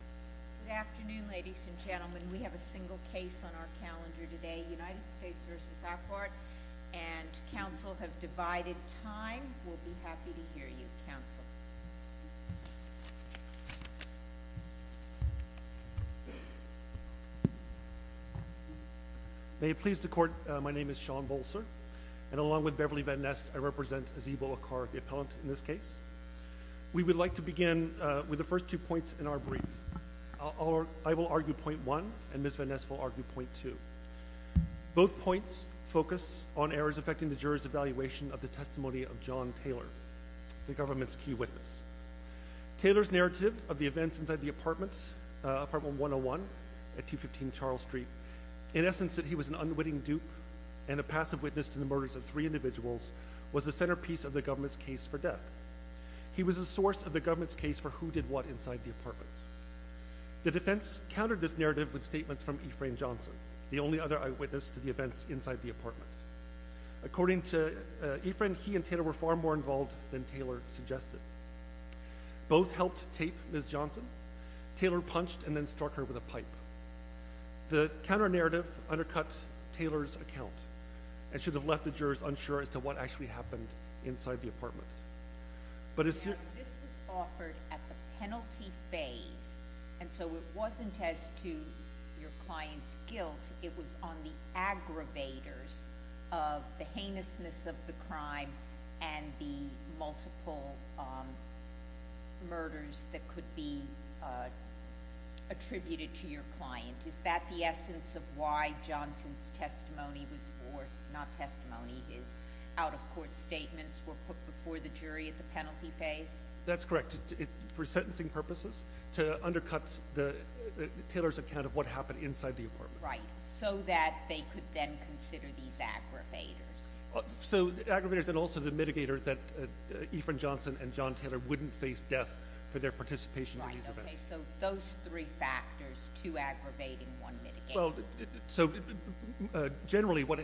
Akar, the appellant in this case. We would like to begin with the first two points in our brief. I will argue point 1 and Ms. Van Ness will argue point 2. Both points focus on errors affecting the jurors' evaluation of the testimony of John Taylor, the government's key witness. Taylor's narrative of the events inside the apartment 101 at 215 Charles Street, in essence that he was an unwitting duke and a passive witness to the murders of three individuals, was the centerpiece of the government's case for death. He was the source of the government's case for who did what inside the apartment. The defense countered this narrative with statements from Ephraim Johnson, the only other eyewitness to the events inside the apartment. According to Ephraim, he and Taylor were far more involved than Taylor suggested. Both helped tape Ms. Johnson. Taylor punched and then struck her with a pipe. The counter-narrative undercuts Taylor's account and should have left the jurors unsure as to what actually happened inside the apartment. This was offered at the penalty phase and so it wasn't as to your client's guilt, it was on the aggravators of the heinousness of the crime and the multiple murders that could be attributed to your client. Is that the essence of why Johnson's testimony was forced, not testimony? His out-of-court statements were put before the jury at the penalty phase? That's correct. It's for sentencing purposes to undercut Taylor's account of what happened inside the apartment. Right, so that they could then consider these aggravators. So aggravators and also the mitigators that Ephraim Johnson and John Taylor wouldn't face death for their participation. Right, okay, so those three factors, two aggravating well so generally what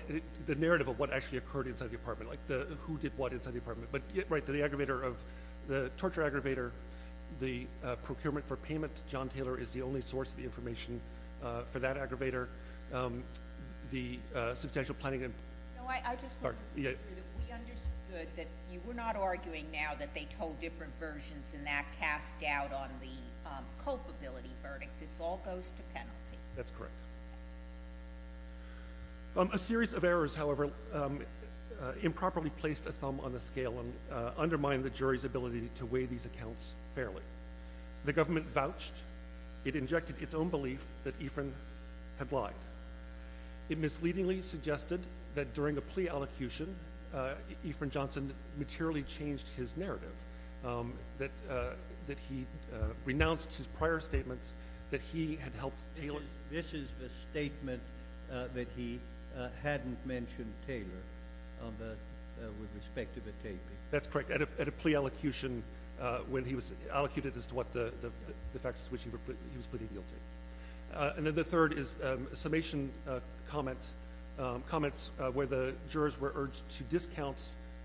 the narrative of what actually occurred inside the apartment like the who did what inside the apartment but right to the aggravator of the torture aggravator, the procurement for payment, John Taylor is the only source of the information for that aggravator, the substantial planning and... We understood that you were not arguing now that they told different versions and that cast doubt on the culpability verdict, it's all those two factors. That's correct. A series of errors, however, improperly placed a thumb on the scale and undermined the jury's ability to weigh these accounts fairly. The government vouched, it injected its own belief that Ephraim had lied. It misleadingly suggested that during the plea allocution, Ephraim Johnson maturely changed his narrative, that he renounced his prior statements that he had helped Taylor. This is the statement that he hadn't mentioned Taylor with respect to the case. That's correct, at a plea allocution when he was allocated as to what the facts which he was putting. And then the third is summation comments where the jurors were urged to discount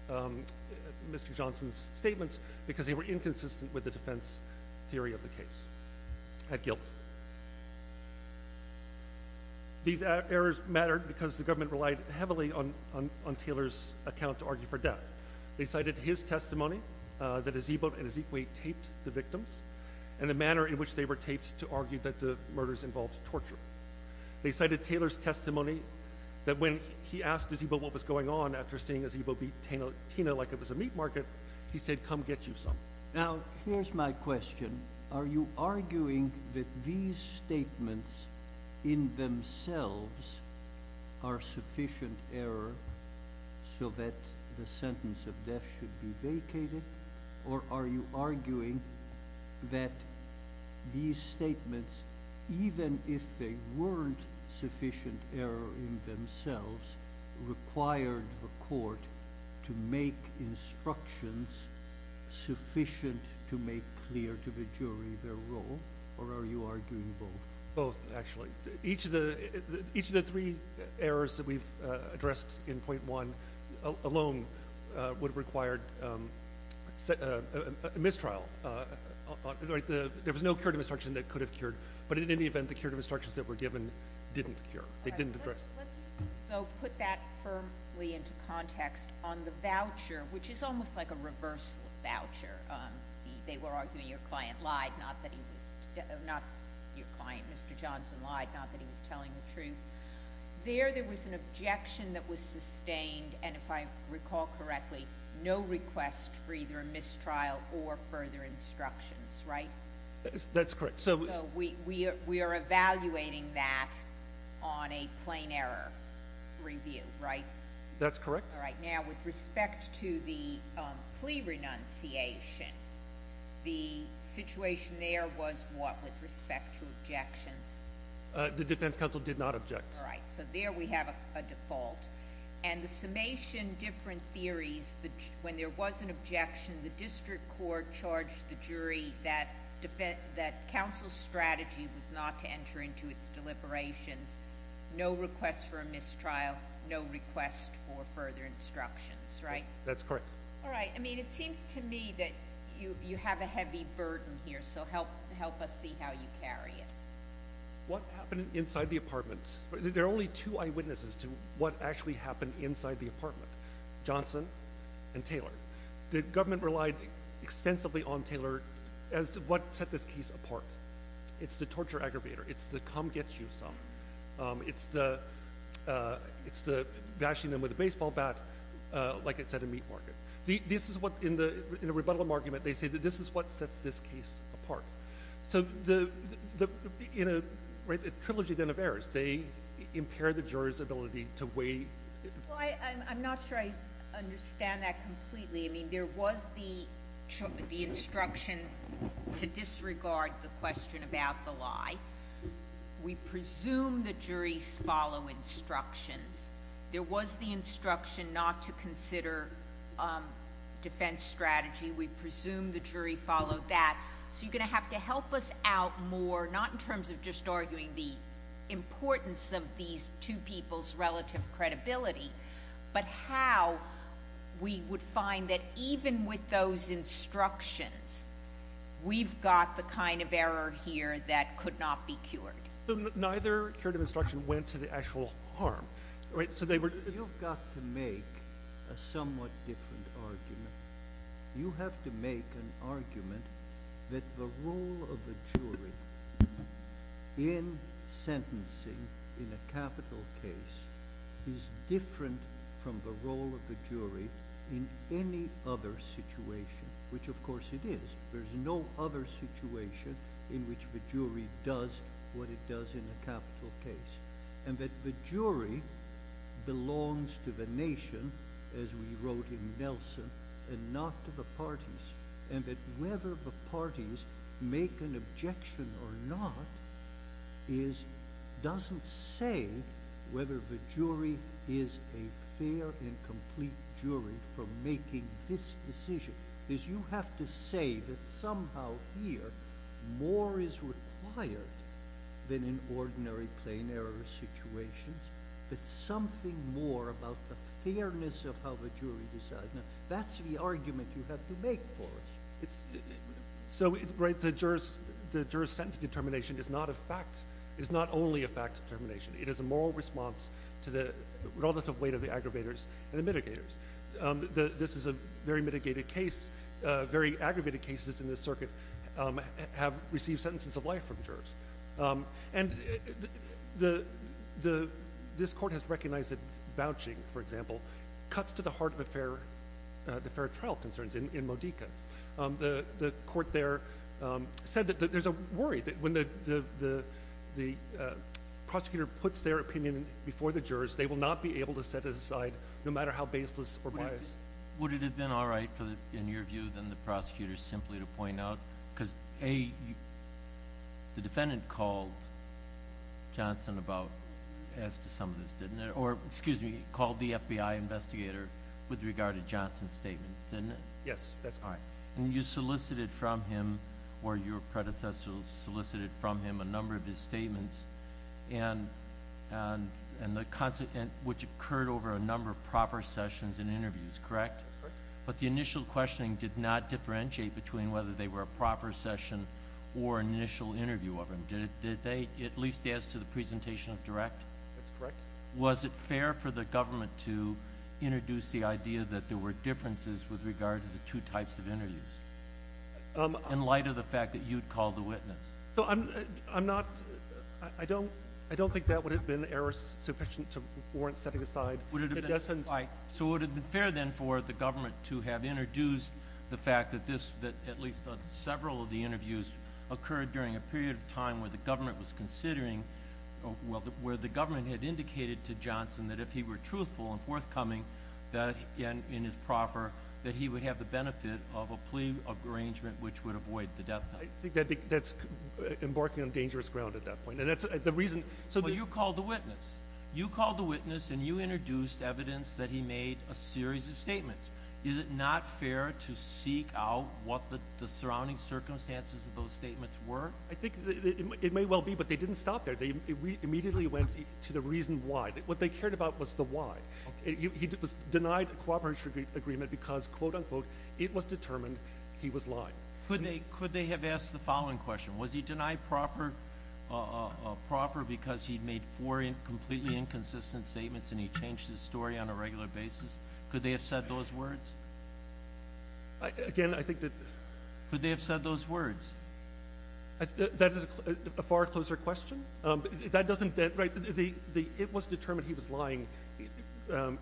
Mr. Johnson's statements because they were inconsistent with the defense theory of the case, had guilt. These errors mattered because the government relied heavily on Taylor's account to argue for death. They cited his testimony that Ezebo and Ezequiel taped the victims and the manner in which the murders involved torture. They cited Taylor's testimony that when he asked Ezebo what was going on after seeing Ezebo beat Tina like it was a meat market, he said, come get you some. Now, here's my question. Are you arguing that these statements in themselves are sufficient error so that the sentence of death should be vacated? Or are you arguing that these statements, even if they weren't sufficient error in themselves, required the court to make instructions sufficient to make clear to the jury their role? Or are you arguing both? Both, actually. Each of the three errors that we've addressed in point one alone would have set a mistrial. There was no curative instruction that could have cured, but in any event, the curative instructions that were given didn't cure. They didn't address it. Let's put that firmly into context on the voucher, which is almost like a reverse voucher. They were arguing your client lied, not that he was telling the truth. There, there was an objection that was sustained, and if I read your mistrial or further instructions, right? That's correct. So we are evaluating that on a plain error review, right? That's correct. All right. Now, with respect to the plea renunciation, the situation there was what with respect to objections? The defense counsel did not object. Right. So there we have a default. And the summation, different theories, when there was an objection, the district court charged the jury that counsel's strategy was not to enter into its deliberation. No request for a mistrial, no request for further instructions, right? That's correct. All right. I mean, it seems to me that you have a heavy burden here, so help us see how you carry it. What happened inside the apartment? There are only two eyewitnesses to what actually happened inside the apartment, Johnson and Taylor. The government relied extensively on Taylor as to what set this case apart. It's the torture aggravator. It's the come get you stuff. It's the bashing them with a baseball bat, like I said, a meat market. This is what in the trilogy then of errors, they impair the jury's ability to weigh. I'm not sure I understand that completely. I mean, there was the instruction to disregard the question about the lie. We presume the jury follow instruction. There was the instruction not to consider defense strategy. We presume the jury followed that. So you're going to have to point out more, not in terms of just arguing the importance of these two people's relative credibility, but how we would find that even with those instructions, we've got the kind of error here that could not be cured. Neither curative instruction went to the actual harm, right? You've got to make a somewhat different argument. You have to make an argument that the role of the jury in sentencing in a capital case is different from the role of the jury in any other situation, which of course it is. There's no other situation in which the jury does what it does in a capital case, and that the jury belongs to the nation, as we wrote in Nelson, and not to the parties. And that whether the parties make an objection or not doesn't say whether the jury is a fair and complete jury for making this decision. You have to say that somehow here, more is required than in ordinary, plain error situations. It's something more about the argument you have to make for it. So the juror's sentence determination is not only a fact determination. It is a moral response to the relative weight of the aggravators and the mitigators. This is a very mitigated case. Very aggravated cases in this circuit have received sentences of life from jurors. And this court has recognized that vouching, for example, cuts to the heart of the fair trial concerns in Modica. The court there said that there's a worry that when the prosecutor puts their opinion before the jurors, they will not be able to set it aside, no matter how baseless or biased. Would it have been all right for, in your view, than the prosecutors simply to point out, because A, the defendant called Johnson about as to some of this, didn't they? Or, excuse me, called the FBI investigator with regard to Johnson's statement, didn't it? Yes, that's correct. And you solicited from him or your predecessor solicited from him a number of his statements, which occurred over a number of proper sessions and interviews, correct? Correct. But the initial questioning did not differentiate between whether they were a proper session or an initial interview of him, did they, at least as to the presentation of direct? That's correct. Was it fair for the government to introduce the idea that there were differences with regard to the two types of interviews, in light of the fact that you'd called the witness? So I'm not, I don't think that would have been error sufficient to warrant setting aside. So would it have been fair then for the government to have introduced the fact that this, that at least several of the interviews occurred during a period of time where the government was considering, where the government had indicated to Johnson that if he were truthful and forthcoming, that again in his proper, that he would have the benefit of a plea arrangement which would avoid the death penalty? I think that's embarking on dangerous ground at that point, and that's the reason. So you called the witness, you called the witness and you introduced evidence that he made a series of statements. Is it not fair to seek out what the surrounding circumstances of those statements were? I think it may well be, but they didn't stop there. They immediately went to the reason why. What they cared about was the why. He was denied a cooperation agreement because, quote unquote, it was determined he was lying. Could they have asked the following question? Was he denied proper because he made four completely inconsistent statements and he could they have said those words? Again, I think that, could they have said those words? That is a far closer question. That doesn't, right, the it was determined he was lying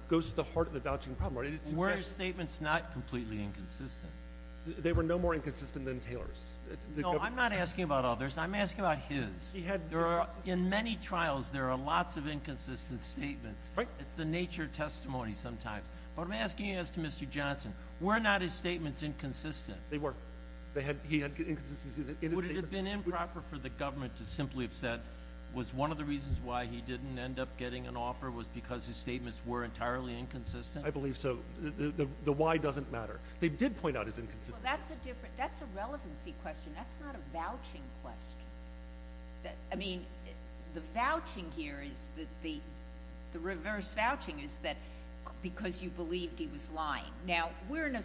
goes to the heart of the vouching problem. Were his statements not completely inconsistent? They were no more inconsistent than Taylor's. No, I'm not asking about others. I'm asking about his. He had, there are in many trials, there are lots of inconsistent statements. It's the nature of testimony sometimes. But I'm asking you as to Mr. Johnson, were not his statements inconsistent? They were. They had, he had, would it have been improper for the government to simply have said was one of the reasons why he didn't end up getting an offer was because his statements were entirely inconsistent? I believe so. The why doesn't matter. They did point out his inconsistency. That's a different, that's a relevancy question. That's not a vouching question. That, I mean, the vouching here is that the reverse vouching is that because you believed he was lying. Now we're in a,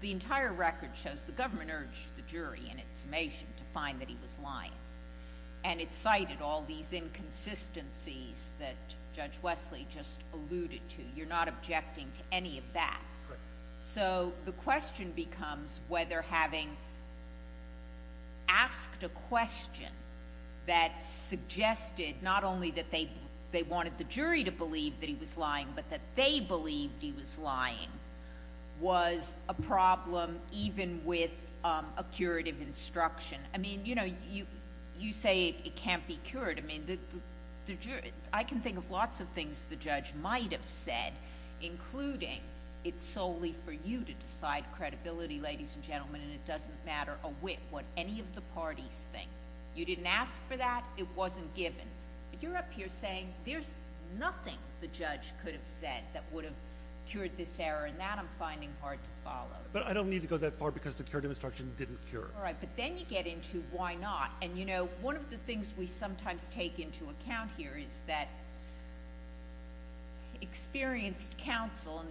the entire record shows the government urged the jury and information to find that he was lying. And it cited all these inconsistencies that Judge Wesley just alluded to. You're not objecting to any of that. So the question becomes whether having asked a question that suggested not only that they wanted the jury to believe that he was lying, but that they believed he was lying was a problem even with a curative instruction. I mean, you know, you say it can't be cured. I mean, I can think of lots of things the judge might have said, including it's solely for you to decide credibility, ladies and gentlemen, and it doesn't matter a whit what any of the parties think. You didn't ask for that, it wasn't given. You're up here saying there's nothing the judge could have said that would have cured this error, and that I'm finding hard to follow. But I don't need to go that far because the curative instruction didn't cure it. All right, but then you get into why not. And you know, one of the things we sometimes take into account here is that experienced counsel,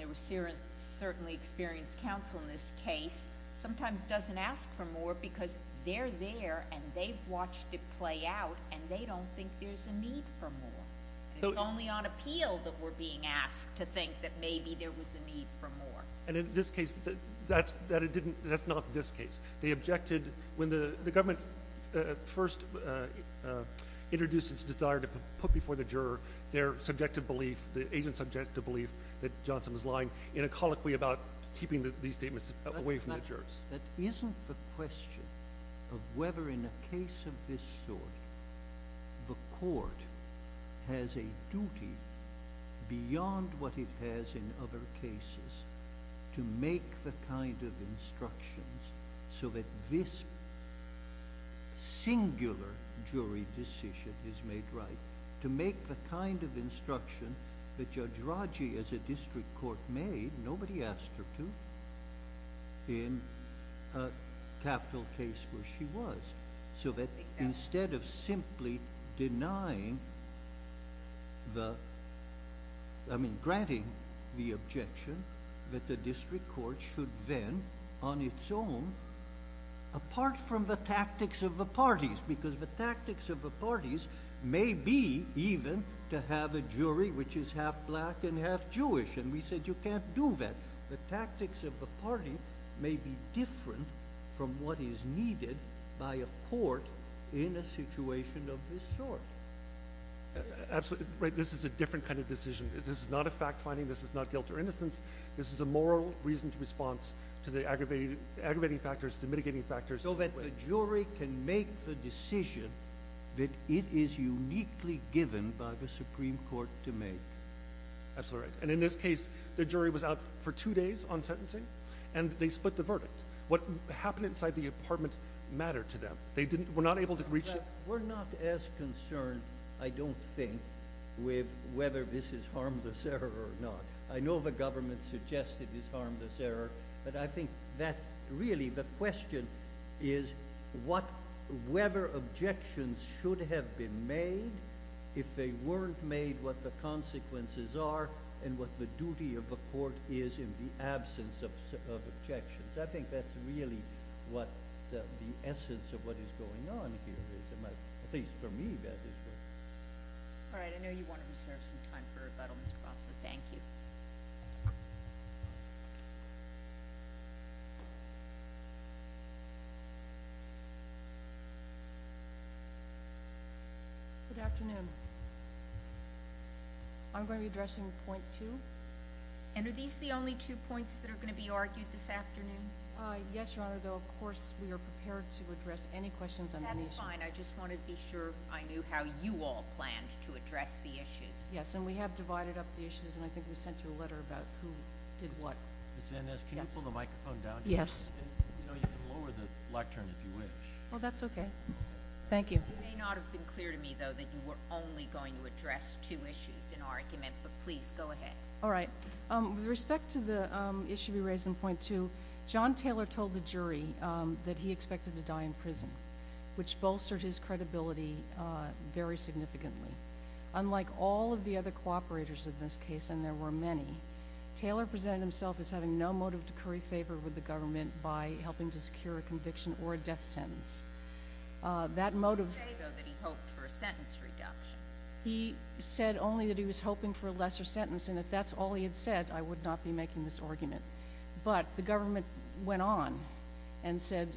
certainly experienced counsel in this case, sometimes doesn't ask for more because they're there and they've watched it play out and they don't think there's a need for more. It's only on appeal that we're being asked to think that maybe there was a need for more. And in this case, that's not this case. They objected when the government first introduced its desire to put before the juror their subjective belief, the agent's subjective belief that Johnson was lying in a colloquy about keeping these statements away from the jurors. That isn't the question of whether in a case of this sort, the court has a duty beyond what it has in other cases to make the kind of instructions so that this singular jury decision is made right, to make the kind of instruction that Judge Raji as a district court made, nobody asked her to, in a capital case where she was. So that instead of simply denying the, I mean, granting the objection that the district court should then on its own, apart from the tactics of the parties, because the tactics of the parties may be even to have a jury which is half black and half Jewish. And we said, you can't do that. The tactics of the party may be different from what is needed by a court in a situation of this sort. Absolutely. This is a different kind of decision. This is not a fact finding. This is not guilt or so that the jury can make the decision that it is uniquely given by the Supreme Court to make. That's right. And in this case, the jury was out for two days on sentencing and they split the verdict. What happened inside the apartment mattered to them. They were not able to reach it. We're not as concerned, I don't think, with whether this is harmless error or not. I know government suggested it's harmless error, but I think that really the question is whether objections should have been made if they weren't made, what the consequences are, and what the duty of the court is in the absence of objections. I think that's really what the essence of what is going on here is. At least for me, that is. All right. I know you want to reserve some time for a final response, but thank you. Good afternoon. I'm going to address point two. And are these the only two points that are going to be argued this afternoon? Yes, Your Honor, though, of course, we are prepared to address any questions. That's fine. I just wanted to be sure I knew how you all planned to address the issues. Yes, and we have divided up the issues, and I think we sent you a letter about who is what. Ms. Ennis, can you pull the microphone down? Yes. So you can lower the volume if you wish. Oh, that's okay. Thank you. It may not have been clear to me, though, that you were only going to address two issues in our argument, but please go ahead. All right. With respect to the issue you raised in point two, John Taylor told the jury that he expected to die in prison, which bolstered his credibility very significantly. Unlike all of the other cooperators in this case, and there were many, Taylor presented himself as having no motive to curry favor with the government by helping to secure a conviction or a death sentence. That motive... He did say, though, that he hoped for a sentence reduction. He said only that he was hoping for a lesser sentence, and if that's all he had said, I would not be making this argument. But the government went on and said,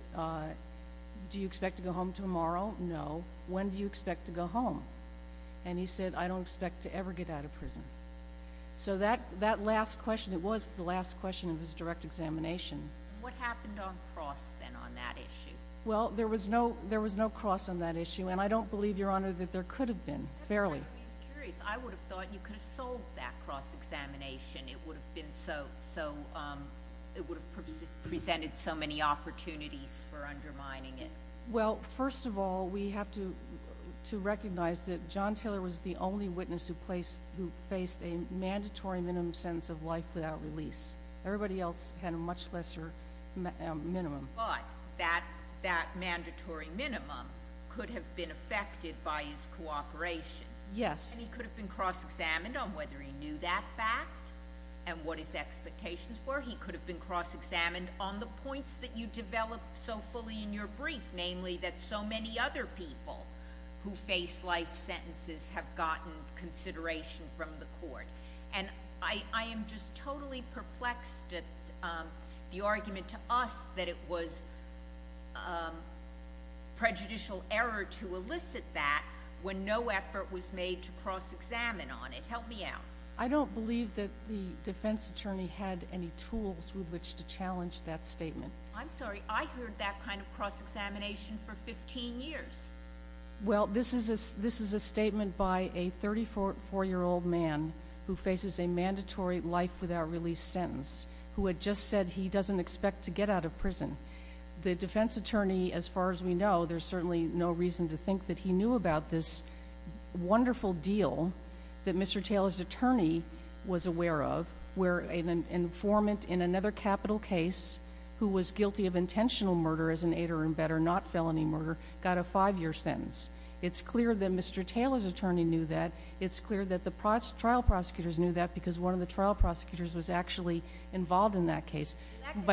do you expect to go home tomorrow? No. When do you expect to go home? And he said, I don't expect to ever get out of prison. So that last question, it was the last question of this direct examination. What happened on cross, then, on that issue? Well, there was no cross on that issue, and I don't believe, Your Honor, that there could have been. Barely. I would have thought you could have sold that cross-examination. It would have been so... It would have presented so many opportunities for undermining it. Well, first of all, we have to recognize that John Taylor was the only witness who faced a mandatory minimum sentence of life without release. Everybody else had a much lesser minimum. But that mandatory minimum could have been affected by his cooperation. Yes. He could have been cross-examined on whether he knew that fact and what his expectations were. He could have been cross-examined on the points that you developed so fully in your brief, namely that so many other people who faced life sentences have gotten consideration from the court. And I am just totally perplexed at the argument to us that it was prejudicial error to elicit that when no effort was made to cross-examine on it. Help me out. I don't believe that the defense attorney had any tools with which to challenge that statement. I'm sorry. I heard that kind of cross-examination for 15 years. Well, this is a statement by a 34-year-old man who faces a mandatory life without release sentence, who had just said he doesn't expect to get out of prison. The defense attorney, as far as we know, there's certainly no reason to think that he knew about this wonderful deal that Mr. Taylor's attorney was aware of, where an informant in another capital case who was guilty of intentional murder as an aider-in-bedder, not felony murder, got a five-year sentence. It's clear that Mr. Taylor's attorney knew that. It's clear that the trial prosecutors knew that because one of the trial prosecutors was actually involved in that case. That's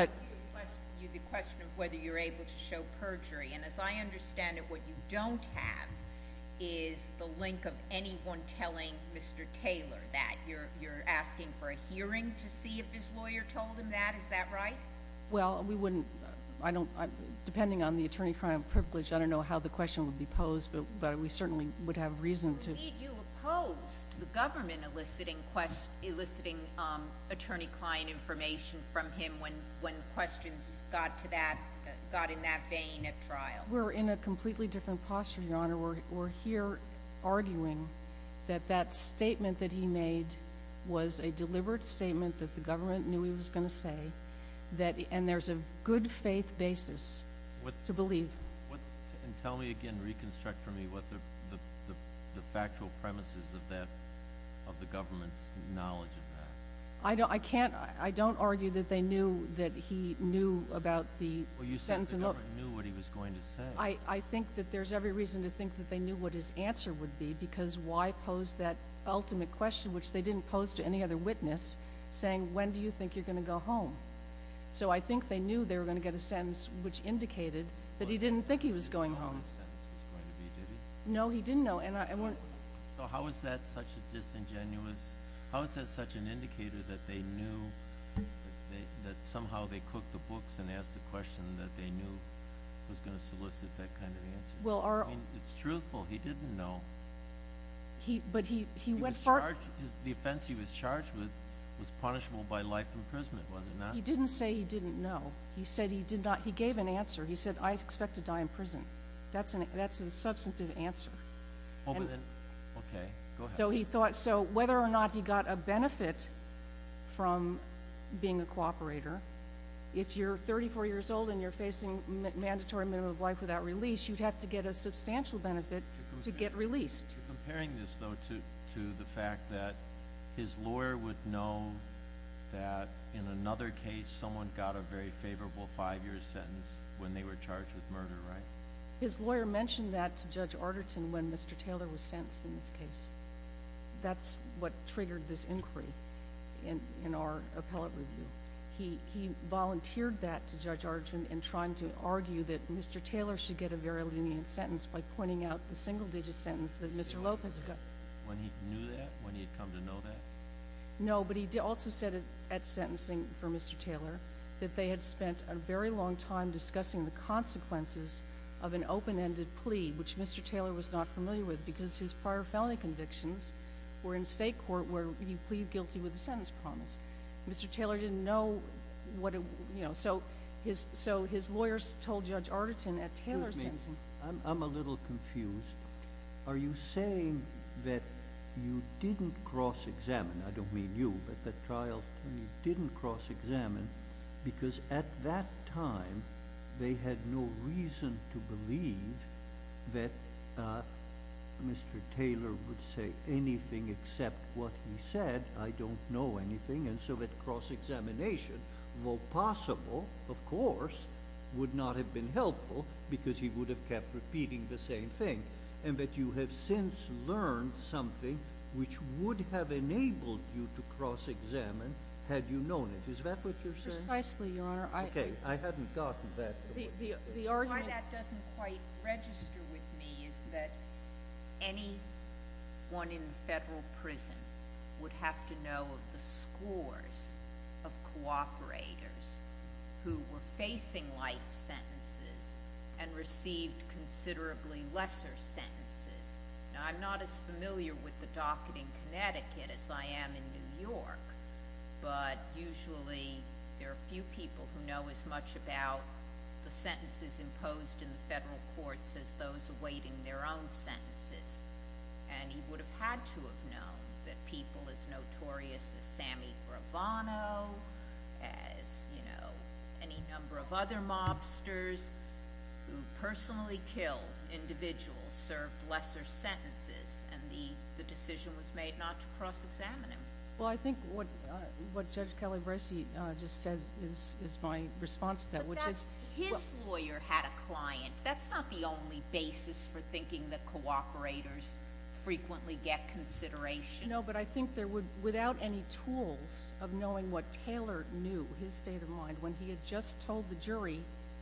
the question of whether you're able to show perjury. And as I understand it, what you don't have is the link of anyone telling Mr. Taylor that. You're asking for a hearing to see if this lawyer told him that. Is that right? Well, depending on the attorney-client privilege, I don't know how the question would be posed, but we certainly would have reason to. Did you oppose the government eliciting attorney-client information from him when questions got in that vein at trial? We're in a completely different classroom, Your Honor. We're here arguing that that statement that he made was a deliberate statement that the government knew he was going to say, and there's a good-faith basis to believe. And tell me again, reconstruct for me what the factual premise is of the government's knowledge of that. I don't argue that they knew that he knew about the sentence. You said the government knew what he was going to say. I think that there's every reason to think that they knew what his answer would be, because why pose that ultimate question, which they didn't pose to any other witness, saying, when do you think you're going to go home? So I think they knew they were going to get a sentence which indicated that he didn't think he was going home. No, he didn't know. So how is that such a disingenuous, how is that such an indicator that they knew that somehow they cooked the books and asked the question and that they knew he was going to solicit that kind of answer? It's truthful. He didn't know. The offense he was charged with was punishable by life imprisonment, wasn't it? He didn't say he didn't know. He said he gave an answer. He said, I expect to die in prison. That's a substantive answer. So whether or not he got a benefit from being a cooperator, if you're 34 years old and you're facing mandatory minimum of life without release, you'd have to get a substantial benefit to get released. Comparing this, though, to the fact that his lawyer would know that in another case someone got a very favorable five-year sentence when they were charged with murder, right? His lawyer mentioned that to Judge Arterton when Mr. Taylor was sentenced in this case. That's what triggered this inquiry in our appellate review. He volunteered that to and tried to argue that Mr. Taylor should get a very lenient sentence by pointing out the single digit sentence that Mr. Lopez got. When he knew that? When he had come to know that? No, but he also said at sentencing for Mr. Taylor that they had spent a very long time discussing the consequences of an open-ended plea, which Mr. Taylor was not familiar with because his prior felony convictions were in state court where he pleaded guilty with a sentence promise. Mr. Taylor didn't know. So his lawyers told Judge Arterton that Taylor's sentence... I'm a little confused. Are you saying that you didn't cross-examine? I don't mean you, but the trial didn't cross-examine because at that time they had no reason to believe that Mr. Taylor would say anything except what he said. I don't know anything, and so that cross-examination, while possible, of course, would not have been helpful because he would have kept repeating the same thing, and that you have since learned something which would have enabled you to cross-examine had you known it. Is that what you're saying? Especially, I hadn't thought of that. The argument that doesn't quite register with me is that anyone in federal prison would have to know of the scores of cooperators who were facing life sentences and received considerably lesser sentences. Now, I'm not as familiar with the docket in Connecticut as I am in New York, but usually there are few people who know as much about the sentences imposed in the federal courts as those awaiting their own sentences, and he would have had to have known that people as notorious as Sammy Gravano, as, you know, any number of other mobsters who personally killed individuals served lesser sentences, and the decision was made not to cross-examine. Well, I think what Judge Kelly just said is my response to that. Now, his lawyer had a client. That's not the only basis for thinking that cooperators frequently get consideration. No, but I think there were, without any tools of knowing what Taylor knew, his state of mind, when he had just told the jury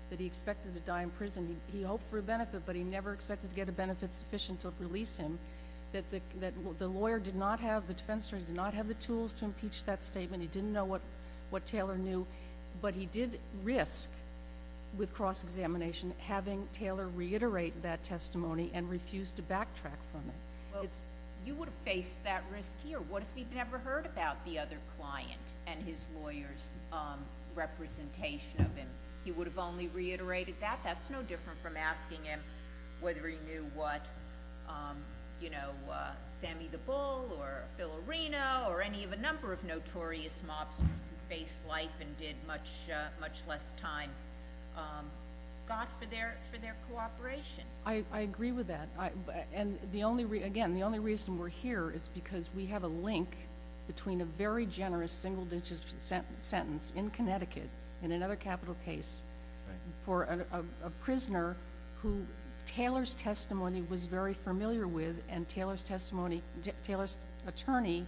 that he expected to die in prison, he hoped for a benefit, but he never expected to get a benefit sufficient to release him, that the lawyer did not have the censors, did not have the tools to impeach that statement, he didn't know what Taylor knew, but he did risk, with cross-examination, having Taylor reiterate that testimony and refuse to backtrack from it. Well, you would have faced that risk here. What if he'd never heard about the other client and his lawyer's representation of him? He would have only reiterated that. That's no different from a number of notorious mobs that faced life and did much less time for their cooperation. I agree with that. Again, the only reason we're here is because we have a link between a very generous single-digit sentence in Connecticut, in another capital case, for a prisoner who Taylor's testimony, Taylor's attorney,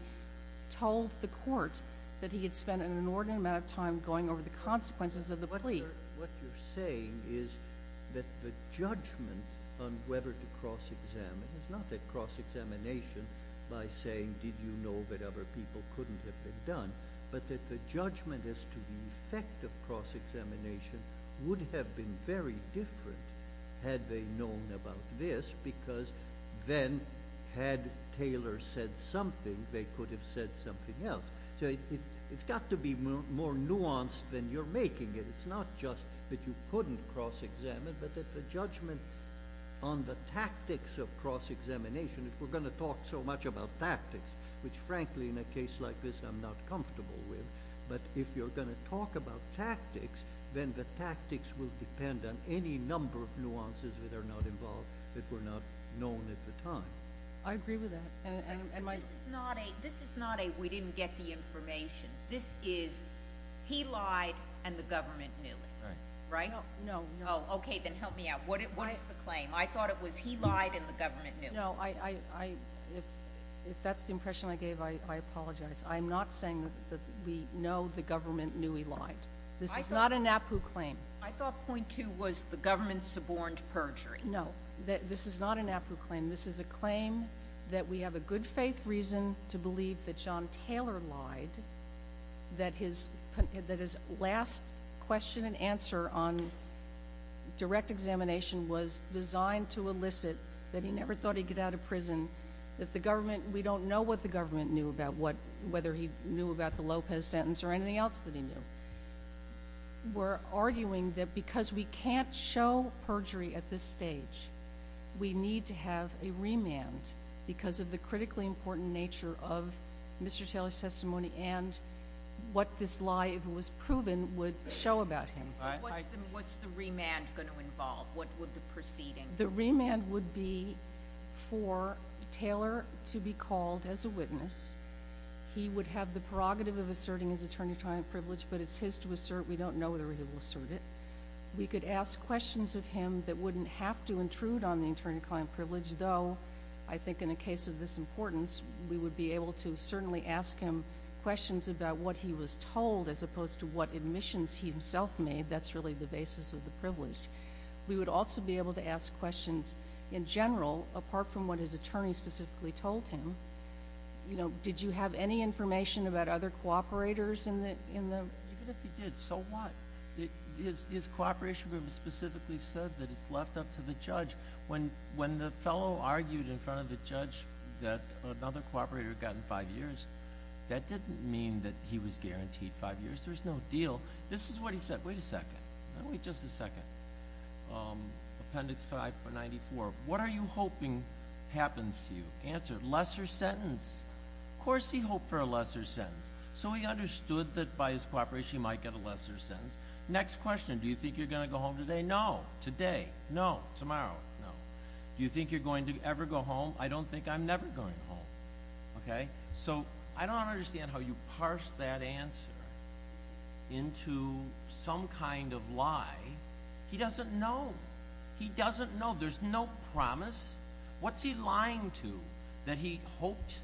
told the court that he had spent an inordinate amount of time going over the consequences of the plea. What you're saying is that the judgment on whether to cross-examine, it's not that cross-examination by saying, did you know that other people couldn't have been done, but that the judgment as to the effect of cross-examination would have been very different had they known about this, because then, had Taylor said something, they could have said something else. So it's got to be more nuanced than you're making it. It's not just that you couldn't cross-examine, but that the judgment on the tactics of cross-examination, if we're going to talk so much about tactics, which frankly, in a case like this, I'm not comfortable with, but if you're going to talk about tactics, then the tactics will depend on any number of nuances that are not involved, that were not known at the time. I agree with that. This is not a, we didn't get the information. This is, he lied and the government knew, right? No, no. Okay, then help me out. What is the claim? I thought it was, he lied and the government knew. No, I, if that's the impression I gave, I apologize. I'm not saying that we know the government knew he lied. This is not an APRU claim. I thought point two was the government suborned perjury. No, this is not an APRU claim. This is a claim that we have a good faith reason to believe that John Taylor lied, that his last question and answer on direct examination was designed to elicit that he never thought he'd get out of prison, that the government, we don't know what the government knew about what, whether he knew about the Lopez sentence or anything else that he knew. We're arguing that because we can't show perjury at this stage, we need to have a remand because of the critically important nature of Mr. Taylor's testimony and what this lie was The remand would be for Taylor to be called as a witness. He would have the prerogative of asserting his attorney client privilege, but it's his to assert. We don't know whether he will assert it. We could ask questions of him that wouldn't have to intrude on the attorney client privilege, though I think in a case of this importance, we would be able to certainly ask him questions about what he was told as opposed to what admissions he himself made. That's really the basis of the questions. In general, apart from what his attorney specifically told him, you know, did you have any information about other cooperators in the in the... Even if he did, so what? His cooperation room specifically said that it's left up to the judge. When the fellow argued in front of the judge that another cooperator had gotten five years, that didn't mean that he was guaranteed five years. There's no deal. This is what he said. Wait a second. Wait just a second. Appendix 5 for 94. What are you hoping happens to you? Answer. Lesser sentence. Of course he hoped for a lesser sentence. So he understood that by his cooperation he might get a lesser sentence. Next question. Do you think you're going to go home today? No. Today. No. Tomorrow. No. Do you think you're going to ever go home? I don't think I'm never going home. Okay. So I don't understand how you parse that answer into some kind of lie. He doesn't know. He doesn't know. There's no promise. What's he lying to? That he hoped...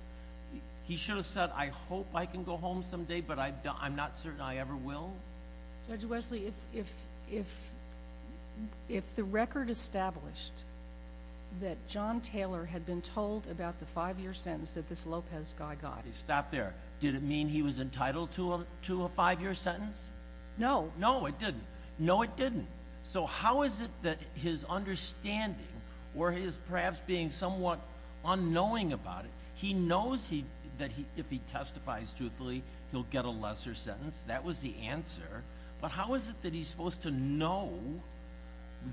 He should have said, I hope I can go home someday, but I'm not certain I ever will. Judge Wesley, if the record established that John Taylor had been told about the five-year sentence that this Lopez guy got... Okay, stop there. Did it mean he was entitled to a five-year sentence? No. No, it didn't. No, it didn't. So how is it that his understanding, or his perhaps being somewhat unknowing about it, he knows that if he testifies truthfully, he'll get a lesser sentence? That was the answer. But how is it that he's supposed to know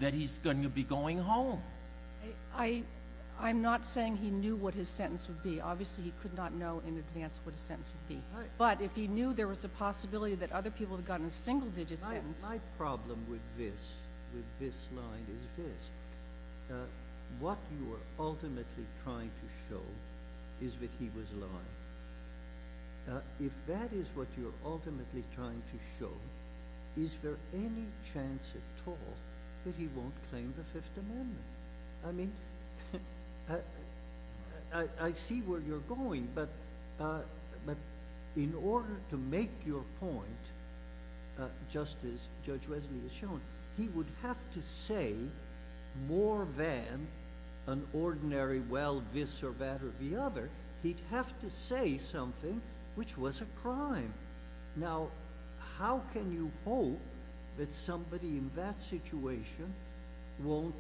that he's going to be going home? I'm not saying he knew what his sentence would be. Obviously, he could not know in advance what a sentence would be. But if he knew there was a possibility that other people had gotten a single-digit sentence... My problem with this, with this lie, is this. What you are ultimately trying to show is that he was lying. Now, if that is what you're ultimately trying to show, is there any chance at all that he won't claim the Fifth Amendment? I mean, I see where you're going, but in order to make your point, just as Judge Wesley has shown, he would have to say more than an ordinary, well, this or that or the other. He'd have to say something which was a crime. Now, how can you hope that somebody in that situation won't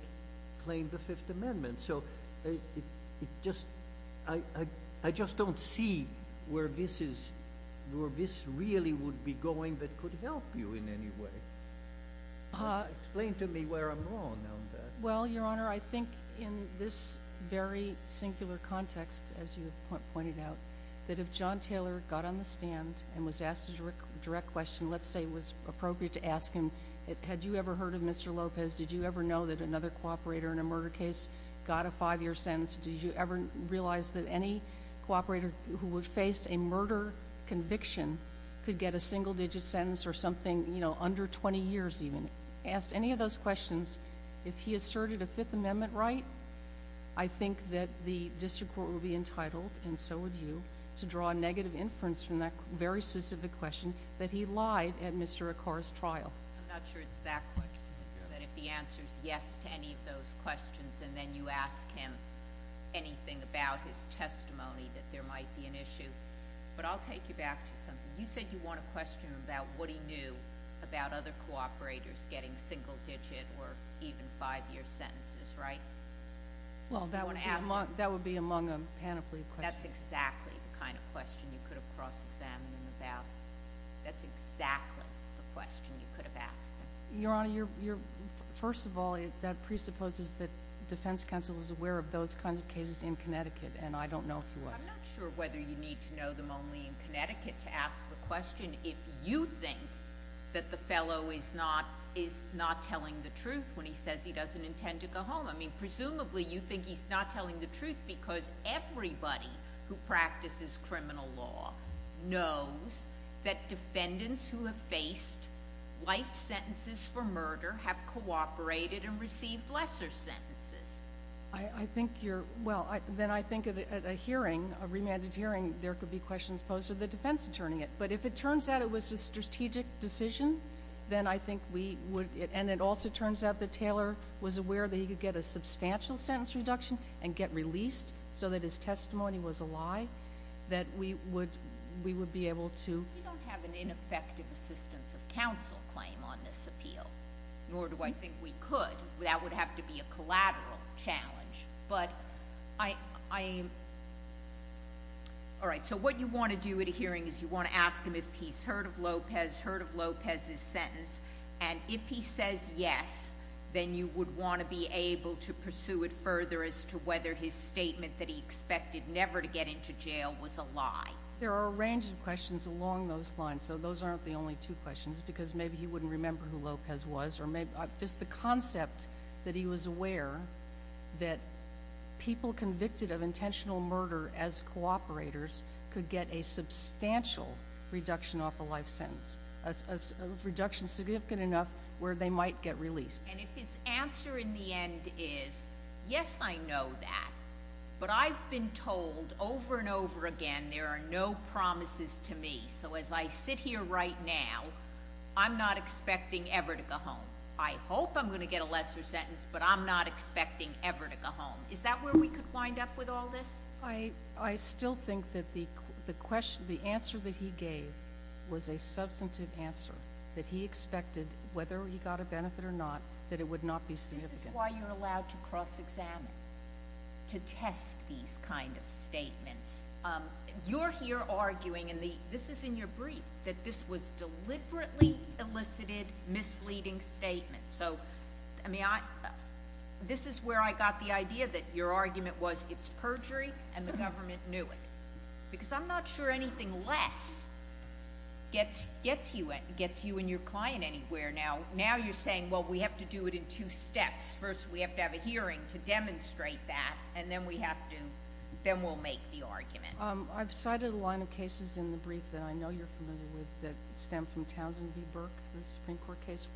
claim the Fifth Amendment? So I just don't see where this really would be going that could help you in any way. Explain to me where I'm wrong on that. Well, Your Honor, I think in this very singular context, as you have pointed out, that if John Taylor got on the stand and was asked a direct question, let's say it was appropriate to ask him, had you ever heard of Mr. Lopez? Did you ever know that another cooperator in a murder case got a five-year sentence? Did you ever realize that any cooperator who would face a five-year sentence or something, you know, under 20 years even, asked any of those questions, if he asserted a Fifth Amendment right, I think that the district court would be entitled, and so would you, to draw negative inference from that very specific question that he lied at Mr. Ackar's trial. I'm not sure it's that question, but if he answers yes to any of those questions and then you ask him anything about his testimony that there might be an issue. But I'll take you back to something. You said you want a question about what he knew about other cooperators getting single-digit or even five-year sentences, right? Well, that would be among a panoply of questions. That's exactly the kind of question we could have crossed examine in the past. That's exactly the question you could have asked. Your Honor, first of all, that presupposes that the defense counsel is aware of those kinds of cases in Connecticut, and I don't know if he was. I'm not sure whether you need to know them only in Connecticut to ask the question if you think that the fellow is not telling the truth when he says he doesn't intend to go home. I mean, presumably, you think he's not telling the truth because everybody who practices criminal law knows that defendants who have faced life sentences for murder have cooperated and a hearing, a remanded hearing, there could be questions posed to the defense attorney. But if it turns out it was a strategic decision, then I think we would, and it also turns out that Taylor was aware that he could get a substantial sentence reduction and get released so that his testimony was a lie, that we would be able to... We don't have an ineffective assistance of counsel claim on this appeal, nor do I think we could. That would have to be a collateral challenge, but I am... All right, so what you want to do at a hearing is you want to ask him if he's heard of Lopez, heard of Lopez's sentence, and if he says yes, then you would want to be able to pursue it further as to whether his statement that he expected never to get into jail was a lie. There are a range of questions along those lines, so those aren't the only two questions, because maybe he wouldn't remember who Lopez was, or maybe just the concept that he was aware that people convicted of intentional murder as cooperators could get a substantial reduction off the life sentence, a reduction significant enough where they might get released. And if his answer in the end is, yes, I know that, but I've been told over and over again there are no promises to me, so if I sit here right now, I'm not expecting ever to go home. I hope I'm going to get a lesser sentence, but I'm not expecting ever to go home. Is that where we could wind up with all this? I still think that the answer that he gave was a substantive answer, that he expected, whether he got a benefit or not, that it would not be significant. That's why you're allowed to cross-examine, to test these kind of statements. You're here arguing, and this is in your brief, that this was a deliberately elicited, misleading statement. So, I mean, this is where I got the idea that your argument was it's perjury and the government knew it. Because I'm not sure anything less gets you and your client anywhere now. Now you're saying, well, we have to do it in two steps. First, we have to have a hearing to demonstrate that, and then we'll make the argument. I've cited a line of cases in the brief that I know you're familiar with, that stem from Townsend v. Burke, this Penn Court case,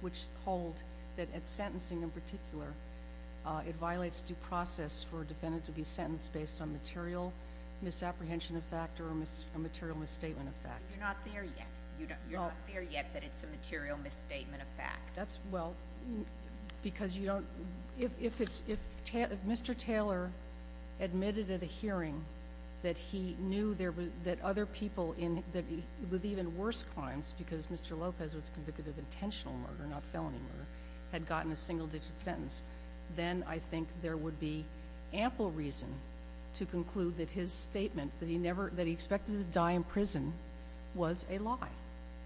which told that at sentencing in particular, it violates due process for a defendant to be sentenced based on material misapprehension effect or a material misstatement effect. But you're not there yet. You're not there yet that it's a material misstatement effect. That's, well, because you don't, if Mr. Taylor admitted at a hearing that he knew that other people with even worse crimes, because Mr. Lopez was convicted of intentional murder, not felony murder, had gotten a single-digit sentence, then I think there would be ample reason to conclude that his statement, that he expected to die in prison, was a lie.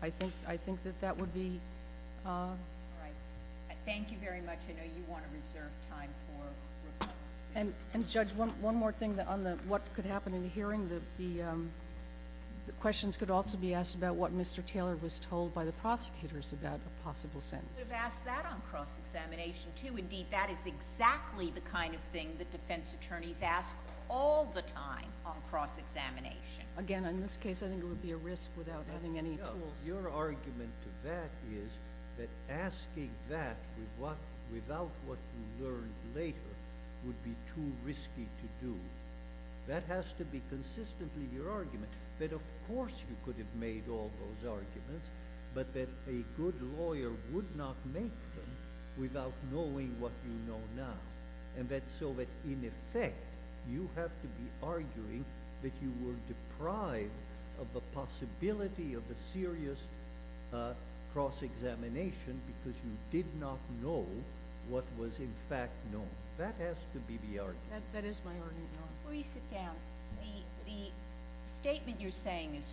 I think that that would be... Right. Thank you very much. I know you want to reserve time for... And, Judge, one more thing on what could happen in a hearing. The questions could also be asked about what Mr. Taylor was told by the prosecutors about the possible sentence. We've asked that on cross-examination, too. Indeed, that is exactly the kind of thing that defense attorneys ask all the time on cross-examination. Again, in this case, I think it would be a risk without having any tools. Your argument to that is that asking that without what you learned later would be too risky to do. That has to be consistently your argument, that of course you could have made all those arguments, but that a good lawyer would not make them without knowing what you know now. And so that, in effect, you have to be arguing that you were deprived of the possibility of a serious cross-examination because you did not know what was in fact known. That has to be the argument. That is my argument. Before you sit down, the statement you're saying is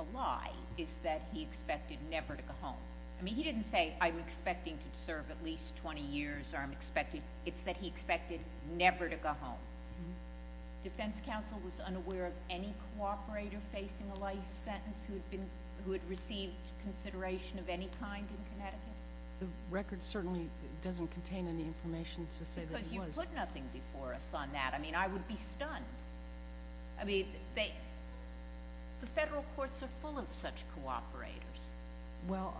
a lie, is that he expected never to go home. I mean, he didn't say, I'm expecting to serve at least 20 years, or I'm expecting... It's that he expected never to go home. Defense counsel was unaware of any cooperator facing a life sentence who had received consideration of any kind in Connecticut? The record certainly doesn't contain any information to say that he was. But he put nothing before us on that. I mean, I would be stunned. I mean, the federal courts are full of such cooperators. Well,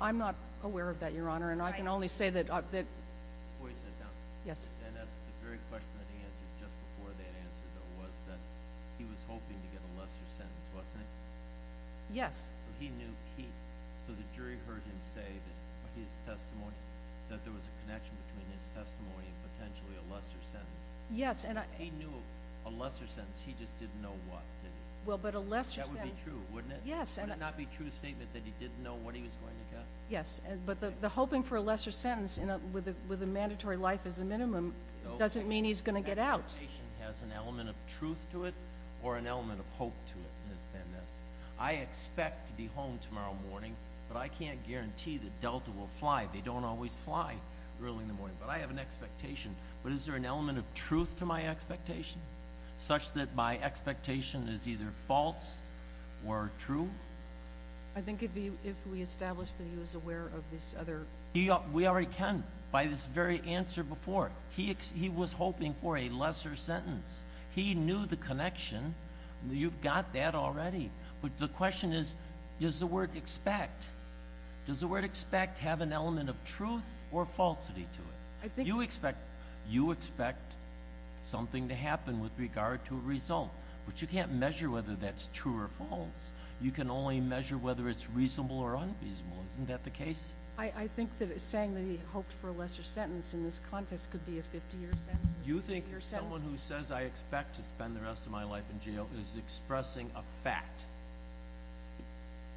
I'm not aware of that, Your Honor, and I can only say that... Before you sit down, the very question that he asked just before that answer, though, was that he was hoping to get a life sentence, wasn't it? Yes. He knew he... So the jury heard him say that there was a connection between his testimony and potentially a lesser sentence. Yes, and I... He knew a lesser sentence. He just didn't know what. Well, but a lesser sentence... That would be true, wouldn't it? Yes, and I... It would not be a true statement that he didn't know what he was going to get. Yes, but the hoping for a lesser sentence with a mandatory life as a minimum doesn't mean he's going to get out. I don't know if the accusation has an element of truth to it or an element of hope to it in that sense. I expect to be home tomorrow morning, but I can't guarantee that Delta will fly. They don't always fly early in the morning, but I have an expectation. But is there an element of truth to my expectation, such that my expectation is either false or true? I think if we establish that he was aware of this other... We already can by this very answer before. He was hoping for a lesser sentence. He knew the connection. You've got that already. The question is, does the word expect... Does the word expect have an element of truth or falsity to it? I think... You expect something to happen with regard to a result, but you can't measure whether that's true or false. You can only measure whether it's reasonable or unreasonable. Isn't that the case? I think that saying that he hoped for a lesser sentence in this context could be a 50-year sentence. Do you think that someone who says, I expect to spend the rest of my life in jail, is expressing a fact?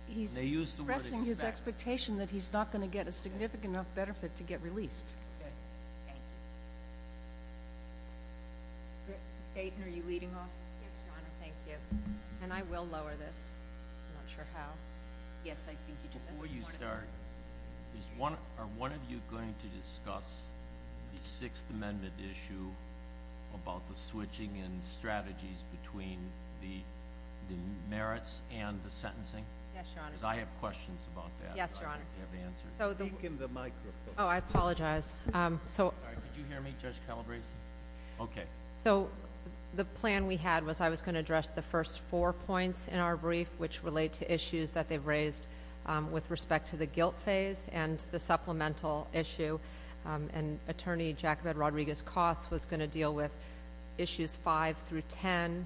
He's expressing his expectation that he's not going to get a significant enough benefit to get released. Dayton, are you leading off? Thank you. And I will lower this. I'm not sure how. Yes, I think you did. Before you start, are one of you going to discuss the Sixth Amendment issue about the switching and the strategies between the merits and the sentencing? Yes, Your Honor. I have questions about that. Yes, Your Honor. I think you have the answer. Give him the mic real quick. Oh, I apologize. Did you hear me, Judge Calabrese? Okay. So the plan we had was I was going to address the first four points in our brief, which relate to issues that they've raised with respect to the guilt phase and the supplemental issue. And Attorney Jacobette Rodriguez-Kost was going to deal with issues five through ten.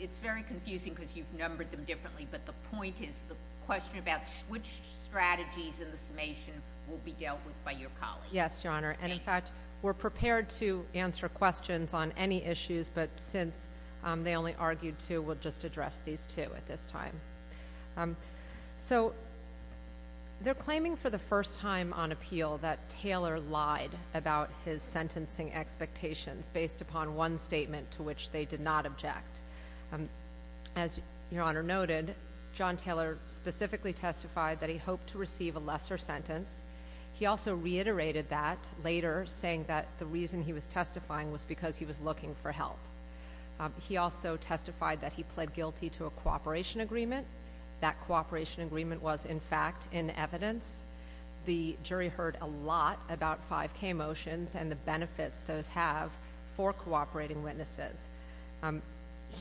It's very confusing because you've numbered them differently, but the point is the question about which strategies and information will be dealt with by your colleagues. Yes, Your Honor. And in fact, we're prepared to answer questions on any issues, but since they only argued two, we'll just address these two at this time. So they're claiming for the first time on appeal that Taylor lied about his sentencing expectations based upon one statement to which they did not object. As Your Honor noted, John Taylor specifically testified that he hoped to receive a lesser sentence. He also reiterated that later, saying that the reason he was testifying was because he was looking for help. He also testified that he pled guilty to a cooperation agreement. That cooperation agreement was, in fact, in evidence. The jury heard a lot about 5K motions and the benefits those have for cooperating witnesses.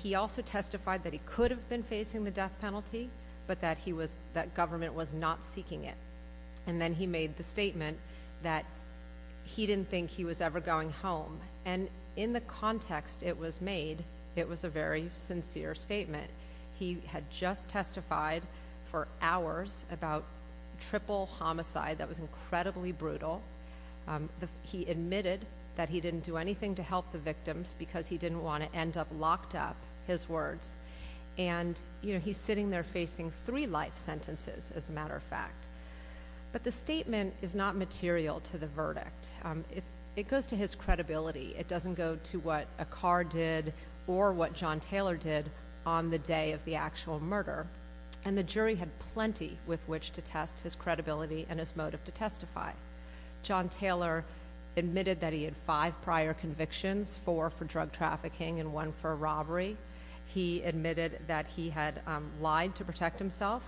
He also testified that he could have been facing the death penalty, but that he was that government was not seeking it. And then he made the statement that he didn't think he was ever going home. And in the context it was made, it was a very sincere statement. He had just testified for hours about triple homicide that was incredibly brutal. He admitted that he didn't do anything to help the victims because he didn't want to end up locked up, his words. And, you know, he's sitting there facing three life sentences, as a matter of fact. But the statement is not material to the verdict. It goes to his credibility. It doesn't go to what a car did or what John Taylor did on the day of the actual murder. And the jury had plenty with which to test his credibility and his motive to testify. John Taylor admitted that he had five prior convictions, four for drug trafficking and one for robbery. He admitted that he had lied to protect himself.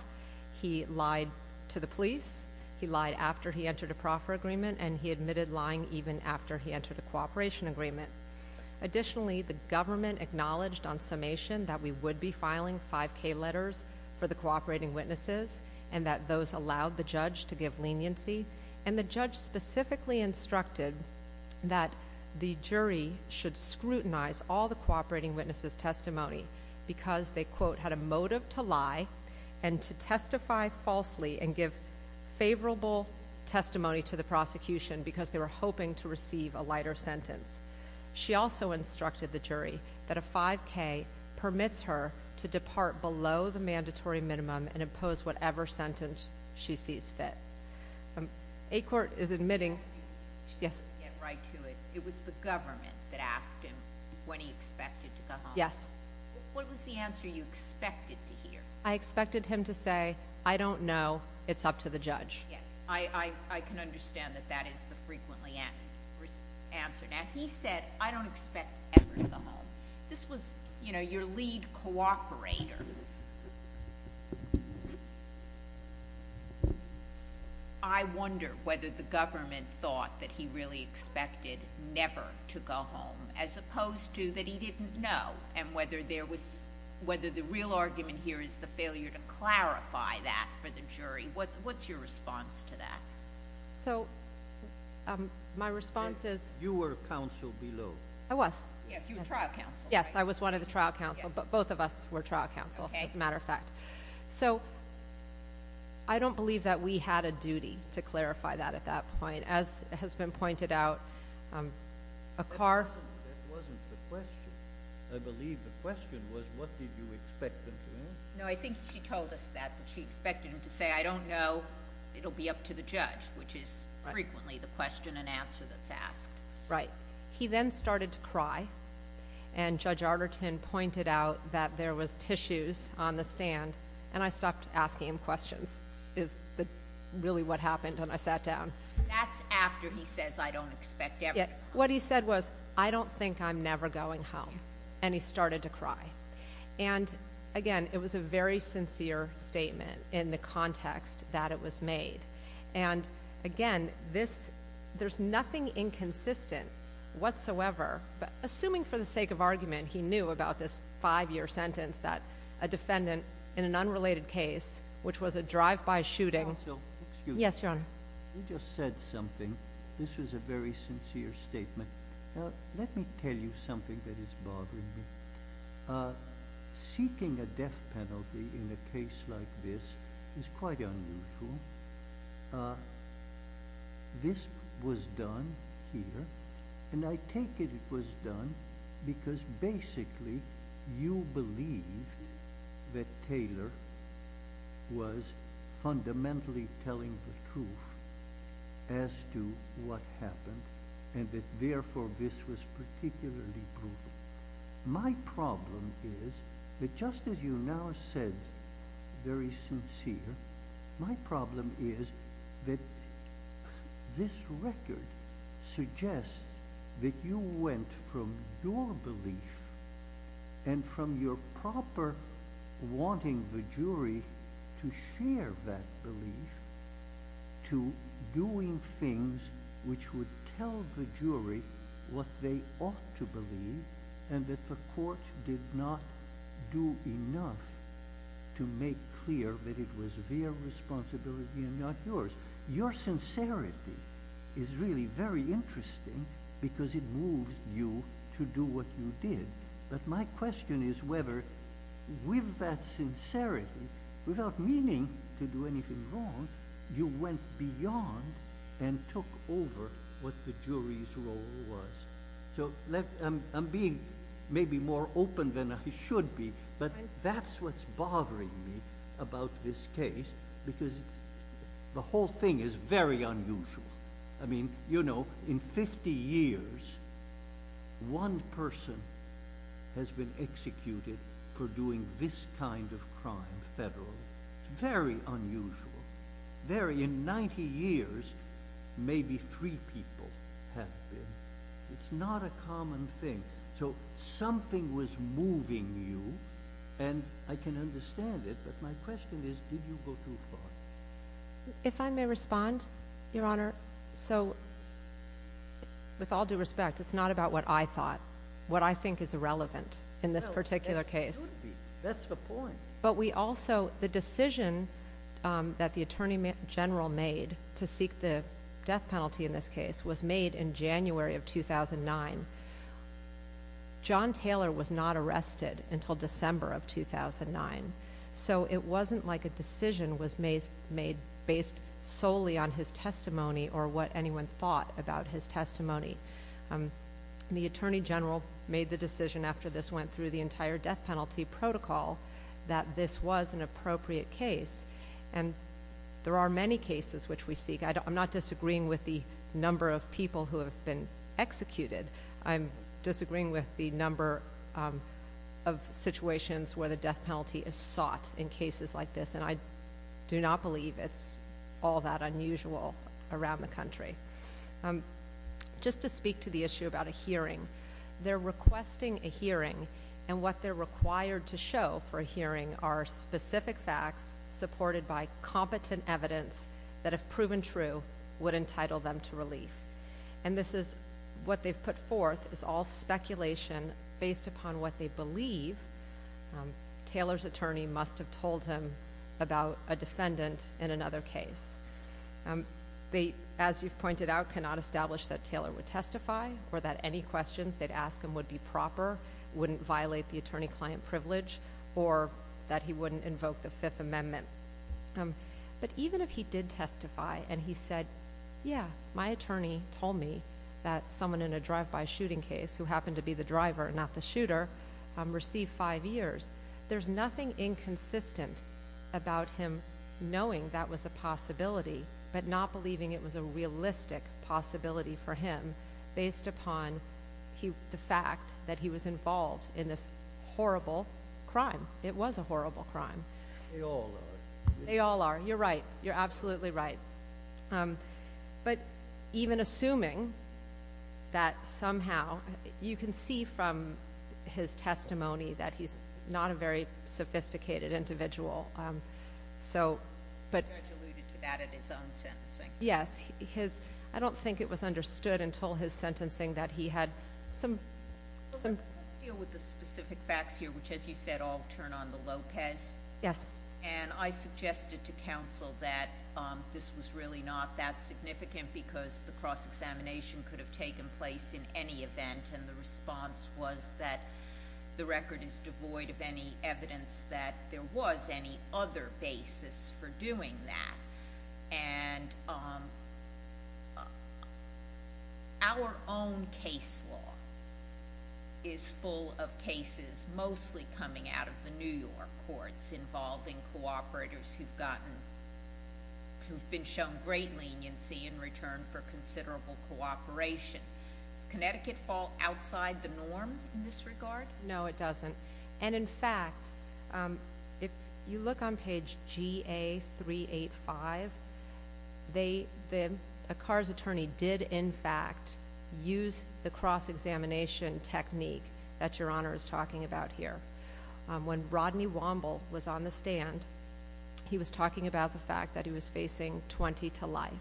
He lied to the police. He lied after he entered a proffer agreement. And he admitted lying even after he entered a cooperation agreement. Additionally, the government acknowledged on summation that we would be filing 5K letters for the cooperating witnesses and that those allowed the judge to give leniency. And the judge specifically instructed that the jury should scrutinize all the cooperating witnesses testimony because they, quote, had a motive to lie and to testify falsely and give favorable testimony to the prosecution because they were hoping to receive a lighter sentence. She also instructed the jury that a 5K permits her to depart below the mandatory minimum and impose whatever sentence she sees fit. A court is admitting. Yes, right to it. It was the government that asked him when he expected to come. Yes. What was the answer you expected to hear? I expected him to say, I don't know. It's up to the judge. Yes, I can understand that that is the frequently asked answer. Now, he said, I don't expect to ever go home. This was, you know, your lead cooperator. I wonder whether the government thought that he really expected never to go home as opposed to that he didn't know and whether there was, whether the real argument here is the failure to clarify that for the jury. What's your response to that? So, my response is. You were counsel below. I was. Yes, you were trial counsel. Yes, I was one of the trial counsel, but both of us were trial counsel, as a matter of fact. So, I don't believe that we had a duty to clarify that at that point. As has been pointed out, a car. It wasn't the question. I believe the question was, what did you expect him to answer? No, I think she told us that she expected him to say, I don't know. It'll be up to the judge, which is frequently the question and answer the fact. Right. He then started to cry and Judge Arterton pointed out that there was tissues on the stand and I stopped asking him questions. Is this really what happened when I sat down? That's after he says, I don't expect. What he said was, I don't think I'm never going home. And he started to cry. And again, it was a very sincere statement in the context that it was made. And again, this there's nothing inconsistent whatsoever. But assuming for the sake of argument, he knew about this five year sentence that a defendant in an unrelated case, which was a drive by shooting. Yes, John. You said something, this was a very sincere statement. Let me tell you something that is bothering me. Seeking a death penalty in a case like this is quite unusual. This was done here. And I take it it was done because basically you believe that Taylor was fundamentally telling the truth. As to what happened, and that therefore, this was particularly. My problem is that just as you now said, very sincere. My problem is that this record suggests that you went from your belief. And from your proper wanting the jury to share that belief to doing things which would tell the jury what they ought to believe and that the court did not do enough to make clear that it was their responsibility and not yours. Your sincerity is really very interesting because it moved you to do what you did. But my question is whether with that sincerity, without meaning to do anything wrong, you went beyond and took over what the jury's role was. So I'm being maybe more open than I should be. But that's what's bothering me about this case because the whole thing is very unusual. I mean, you know, in 50 years, one person has been executed for doing this kind of crime, federal, very unusual. There in 90 years, maybe three people have been. It's not a common thing. So something was moving you and I can understand it. But my question is, did you go too far? If I may respond, Your Honor. So with all due respect, it's not about what I thought, what I think is irrelevant in this particular case. That's the point. But we also the decision that the attorney general made to seek the death penalty in this case was made in January of 2009. John Taylor was not arrested until December of 2009. So it wasn't like a decision was made based solely on his testimony or what anyone thought about his testimony. The attorney general made the decision after this went through the entire death penalty protocol that this was an appropriate case. And there are many cases which we seek. I'm not disagreeing with the number of people who have been executed. I'm disagreeing with the number of situations where the death penalty is sought in cases like this. And I do not believe it's all that unusual around the country. Just to speak to the issue about a hearing, they're requesting a hearing and what they're required to show for a hearing are specific facts supported by competent evidence that has proven true would entitle them to relief. And this is what they've put forth. It's all speculation based upon what they believe. Taylor's attorney must have told him about a defendant in another case. They, as you've pointed out, cannot establish that Taylor would testify or that any questions they'd ask him would be proper, wouldn't violate the attorney client privilege, or that he wouldn't invoke the Fifth Amendment. But even if he did testify and he said, yeah, my attorney told me that someone in a drive-by shooting case who happened to be the driver, not the shooter, received five years, there's nothing inconsistent about him knowing that was a possibility but not believing it was a realistic possibility for him based upon the fact that he was involved in this horrible crime. It was a horrible crime. They all are. You're right. You're absolutely right. But even assuming that somehow, you can see from his testimony that he's not a very sophisticated individual. So, but- Taylor's alluded to that in his own sentencing. Yes. I don't think it was understood until his sentencing that he had some- I'm dealing with the specific facts here, which is he said, I'll turn on the low-cut. Yes. And I suggested to counsel that this was really not that significant because the cross-examination could have taken place in any event, and the response was that the record is devoid of any evidence that there was any other basis for doing that. And our own case law is full of cases mostly coming out of the New York courts involved cooperators who've gotten- who've been shown great leniency in return for considerable cooperation. Connecticut fall outside the norm in this regard? No, it doesn't. And in fact, if you look on page GA385, they- the Carr's attorney did, in fact, use the cross-examination technique that Your Honor is talking about here. When Rodney Wamble was on the stand, he was talking about the fact that he was facing 20 to life.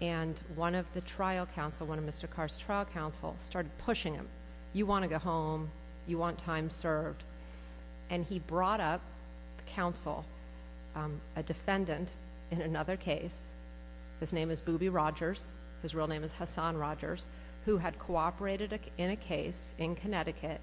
And one of the trial counsel, one of Mr. Carr's trial counsel, started pushing him. You want to go home. You want time served. And he brought up counsel, a defendant in another case. His name is Booby Rogers. His real name is Hassan Rogers, who had cooperated in a case in Connecticut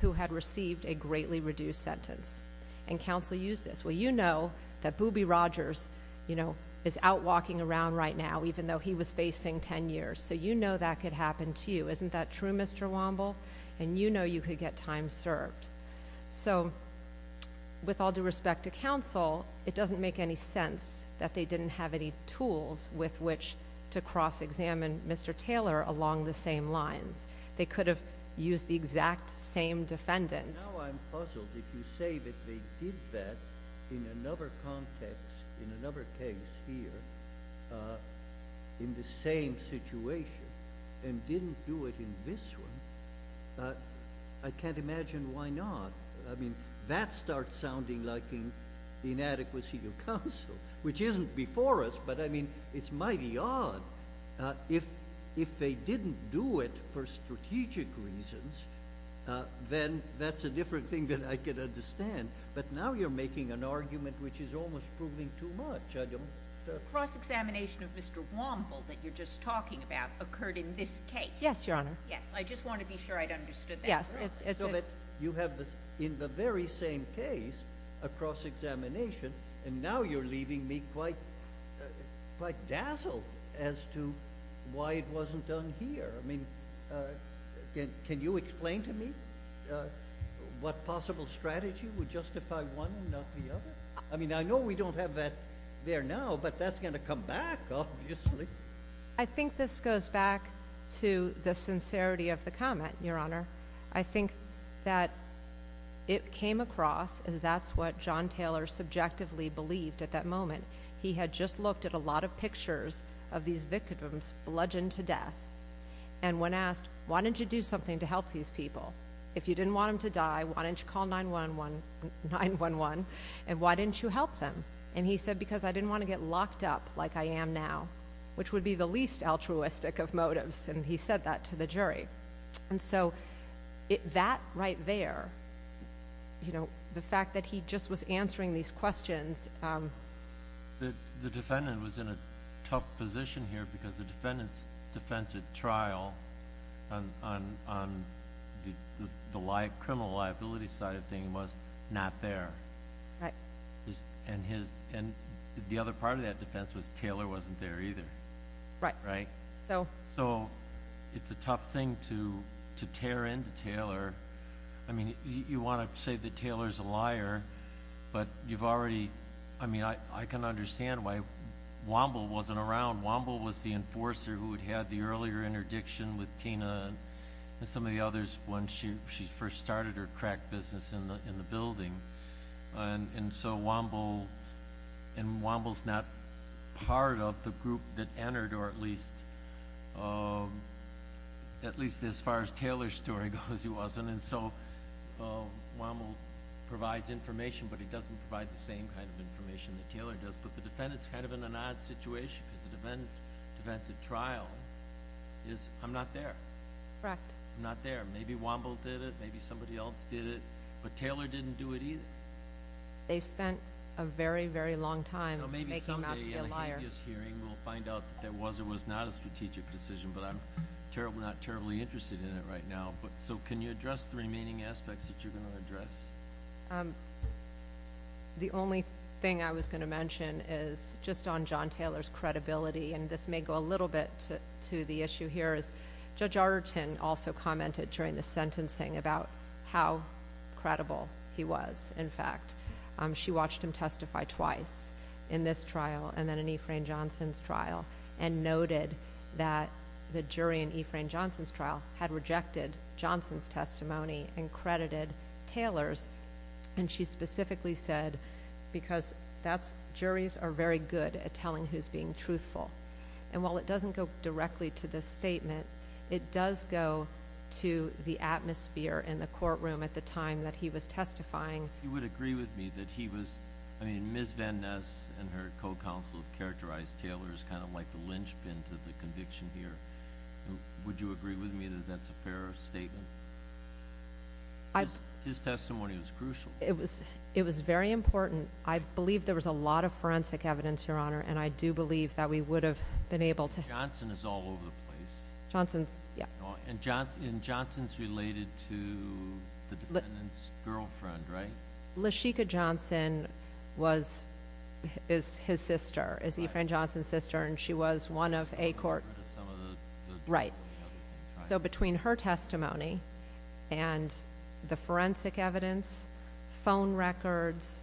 who had received a greatly reduced sentence. And counsel used this. Well, you know that Booby Rogers, you know, is out walking around right now even though he was facing 10 years. So you know that could happen to you. Isn't that true, Mr. Wamble? And you know you could get time served. So with all due respect to counsel, it doesn't make any sense that they didn't have any tools with which to cross-examine Mr. Taylor along the same lines. They could have used the exact same defendant. Now I'm puzzled. If you say that they did that in another context, in another hemisphere, in the same situation, and didn't do it in this one, I can't imagine why not. I mean, that starts sounding like an inadequacy to counsel, which isn't before us. But I mean, it's mighty odd. If they didn't do it for strategic reasons, then that's a different thing that I could understand. But now you're making an argument which is almost proving too much. The cross-examination of Mr. Wamble that you're just talking about occurred in this case. Yes, Your Honor. Yes. I just want to be sure I'd understood that. Yes. You have in the very same case a cross-examination. And now you're leaving me quite dazzled as to why it wasn't done here. I mean, can you explain to me what possible strategy would justify one and not the other? I mean, I know we don't have that there now, but that's going to come back, obviously. I think this goes back to the sincerity of the comment, Your Honor. I think that it came across, and that's what John Taylor subjectively believed at that moment. He had just looked at a lot of pictures of these victims, alleged to death, and when asked, why didn't you do something to help these people? If you didn't want them to die, why didn't you call 911 and why didn't you help them? And he said, because I didn't want to get locked up like I am now, which would be the least altruistic of motives. And he said that to the jury. And so that right there, you know, the fact that he just was answering these questions. The defendant was in a tough position here because the defendant's defense at trial on the criminal liability side of things was not there. And the other part of that defense was Taylor wasn't there either. Right. Right. So it's a tough thing to tear into Taylor. I mean, you want to say that Taylor's a liar, but you've already, I mean, I can understand why Womble wasn't around. Womble was the enforcer who had the earlier interdiction with Tina and some of the others when she first started her crack business in the building. And so Womble, and Womble's not part of the group that entered, or at least at least as far as Taylor's story goes, he wasn't. And so Womble provides information, but he doesn't provide the same kind of information that Taylor does. But the defendant's kind of in an odd situation because the defendant's defense at trial is I'm not there. Correct. Not there. Maybe Womble did it. Maybe somebody else did it. But Taylor didn't do it either. They spent a very, very long time making them out to be a liar. So maybe somebody at a previous hearing will find out if it was or was not a strategic decision. But I'm not terribly interested in it right now. But so can you address the remaining aspects that you're going to address? The only thing I was going to mention is just on John Taylor's credibility. And this may go a little bit to the issue here is Judge Arterton also commented during the sentencing about how credible he was. In fact, she watched him testify twice in this trial and then in Ephraim Johnson's trial and noted that the jury in Ephraim Johnson's trial had rejected Johnson's testimony and credited Taylor's. And she specifically said, because that's juries are very good at telling who's being truthful. And while it doesn't go directly to this statement, it does go to the atmosphere in the courtroom at the time that he was testifying. You would agree with me that he was, I mean, Ms. Van Ness and her co-counsel characterized Taylor as kind of like the linchpin to the conviction here. Would you agree with me that that's a fair statement? His testimony was crucial. It was very important. I believe there was a lot of forensic evidence, Your Honor. And I do believe that we would have been able to... Johnson is all over the place. Johnson, yeah. And Johnson's related to the defendant's girlfriend, right? Lashika Johnson was, is his sister, is Ephraim Johnson's sister. And she was one of a court... Right. So between her testimony and the forensic evidence, phone records,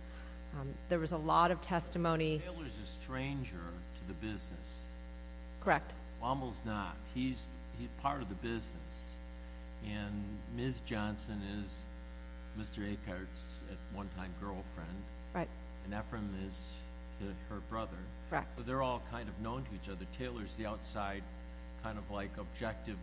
there was a lot of testimony... Taylor's a stranger to the business. Correct. Almost not. He's part of the business. And Ms. Johnson is Mr. Apert's one-time girlfriend. Right. And Ephraim is her brother. Correct. So they're all kind of known to each other. Taylor's the outside kind of like objective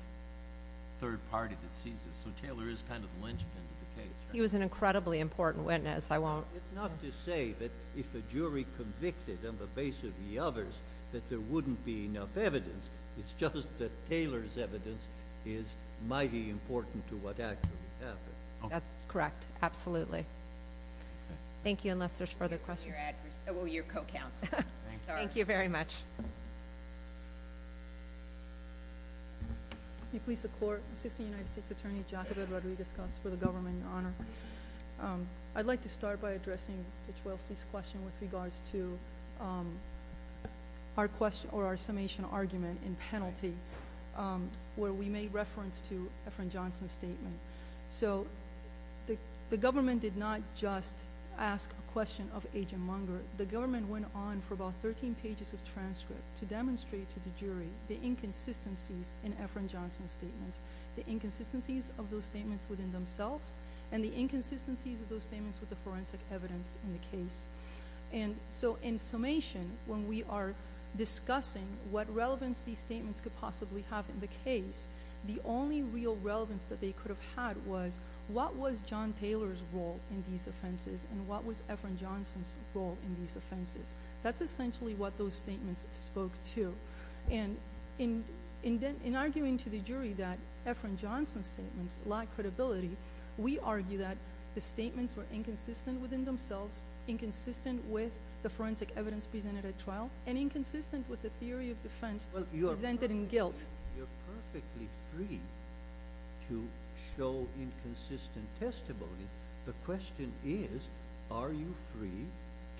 third party that sees this. So Taylor is kind of a linchpin to the case. He was an incredibly important witness. I won't... Not to say that if the jury convicted on the basis of the others, that there wouldn't be enough evidence. It's just that Taylor's evidence is mighty important to what actually happened. That's correct. Absolutely. Thank you. Unless there's further questions. Oh, you're co-counselor. Thank you very much. Can we please have the court. I'm Assistant United States Attorney at Jacksonville. I'd like to discuss for the government in honor. Um, I'd like to start by addressing this question with regards to, um, our question or our summation argument in penalty, um, where we made reference to Ephraim Johnson's statement. So the government did not just ask a question of Agent Munger. The government went on for about 13 pages of transcripts to demonstrate to the jury the inconsistencies in Ephraim Johnson's statements, the inconsistencies of those statements with the forensic evidence in the case. And so in summation, when we are discussing what relevance these statements could possibly have in the case, the only real relevance that they could have had was what was John Taylor's role in these offenses and what was Ephraim Johnson's role in these offenses. That's essentially what those statements spoke to. And in, in, in arguing to the jury that Ephraim Johnson's statements lack credibility, we argue that the statements were inconsistent within themselves, inconsistent with the forensic evidence presented at trial, and inconsistent with the theory of defense presented in guilt. You're perfectly free to show inconsistent testimony. The question is, are you free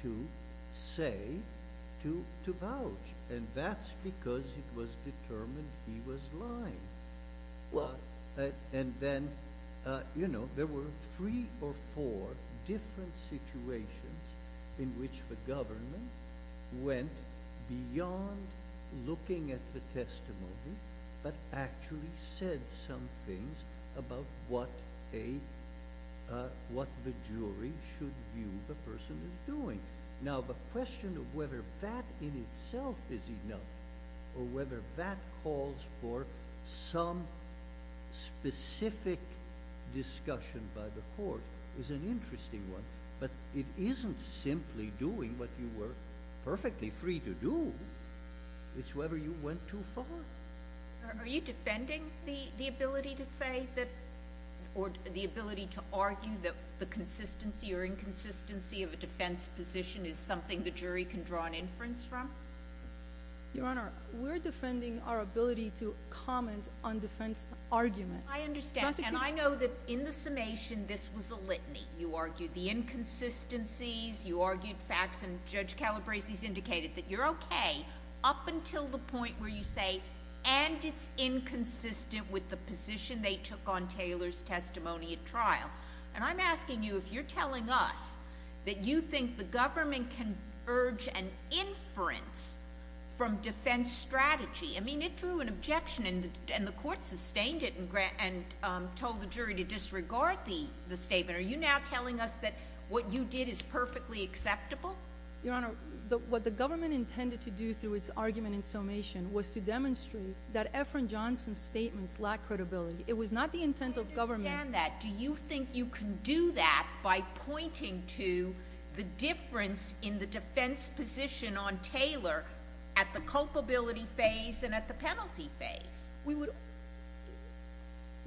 to say, to, to vouch? And that's because it was determined he was lying. Well, and then, you know, there were three or four different situations in which the government went beyond looking at the testimony, but actually said some things about what a, what the jury should view the person as doing. Now, the question of whether that in itself is enough or whether that calls for some specific discussion by the court is an interesting one, but it isn't simply doing what you were perfectly free to do. It's whether you went too far. Are you defending the, the ability to say that, or the ability to argue that the consistency or inconsistency of a defense position is something the jury can draw an inference from? Your Honor, we're defending our ability to comment on defense arguments. I understand, and I know that in the summation, this was a litany. You argued the inconsistencies, you argued facts, and Judge Calabresi's indicated that you're okay, up until the point where you say, and it's inconsistent with the position they took on Taylor's testimony at trial. And I'm asking you, if you're telling us that you think the government can urge an inference from defense strategy, I mean, it threw an objection and the court sustained it and told the jury to disregard the statement. Are you now telling us that what you did is perfectly acceptable? Your Honor, what the government intended to do through its argument in summation was to demonstrate that Efron Johnson's statements lack credibility. It was not the intent of government. Do you think you can do that by pointing to the difference in the defense position on Taylor at the culpability phase and at the penalty phase?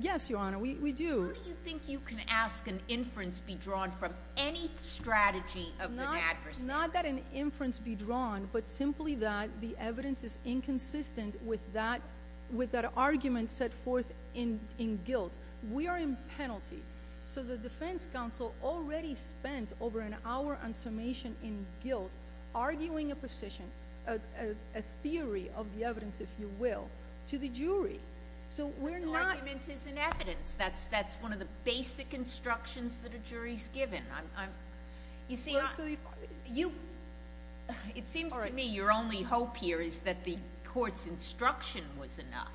Yes, Your Honor, we do. Do you think you can ask an inference be drawn from any strategy of the adversary? Not that an inference be drawn, but simply that the evidence is inconsistent with that argument set forth in guilt. We are in penalty. So the defense counsel already spent over an hour on summation in guilt, arguing a position, a theory of the evidence, if you will, to the jury. So we're not— The argument is in evidence. That's one of the basic instructions that a jury is given. It seems to me your only hope here is that the court's instruction was enough.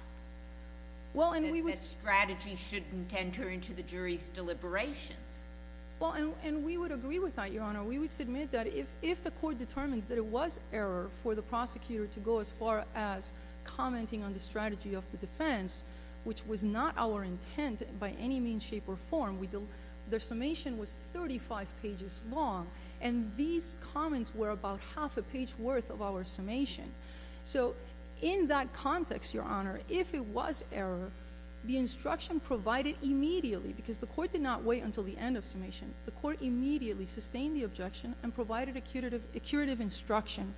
And that strategy shouldn't enter into the jury's deliberation. Well, and we would agree with that, Your Honor. We would submit that if the court determines that it was error for the prosecutor to go as far as commenting on the strategy of the defense, which was not our intent by any means, shape, or form, the summation was 35 pages long, and these comments were about half a page worth of our summation. So in that context, Your Honor, if it was error, the instruction provided immediately, because the court did not wait until the end of summation. The court immediately sustained the objection and provided a curative instruction.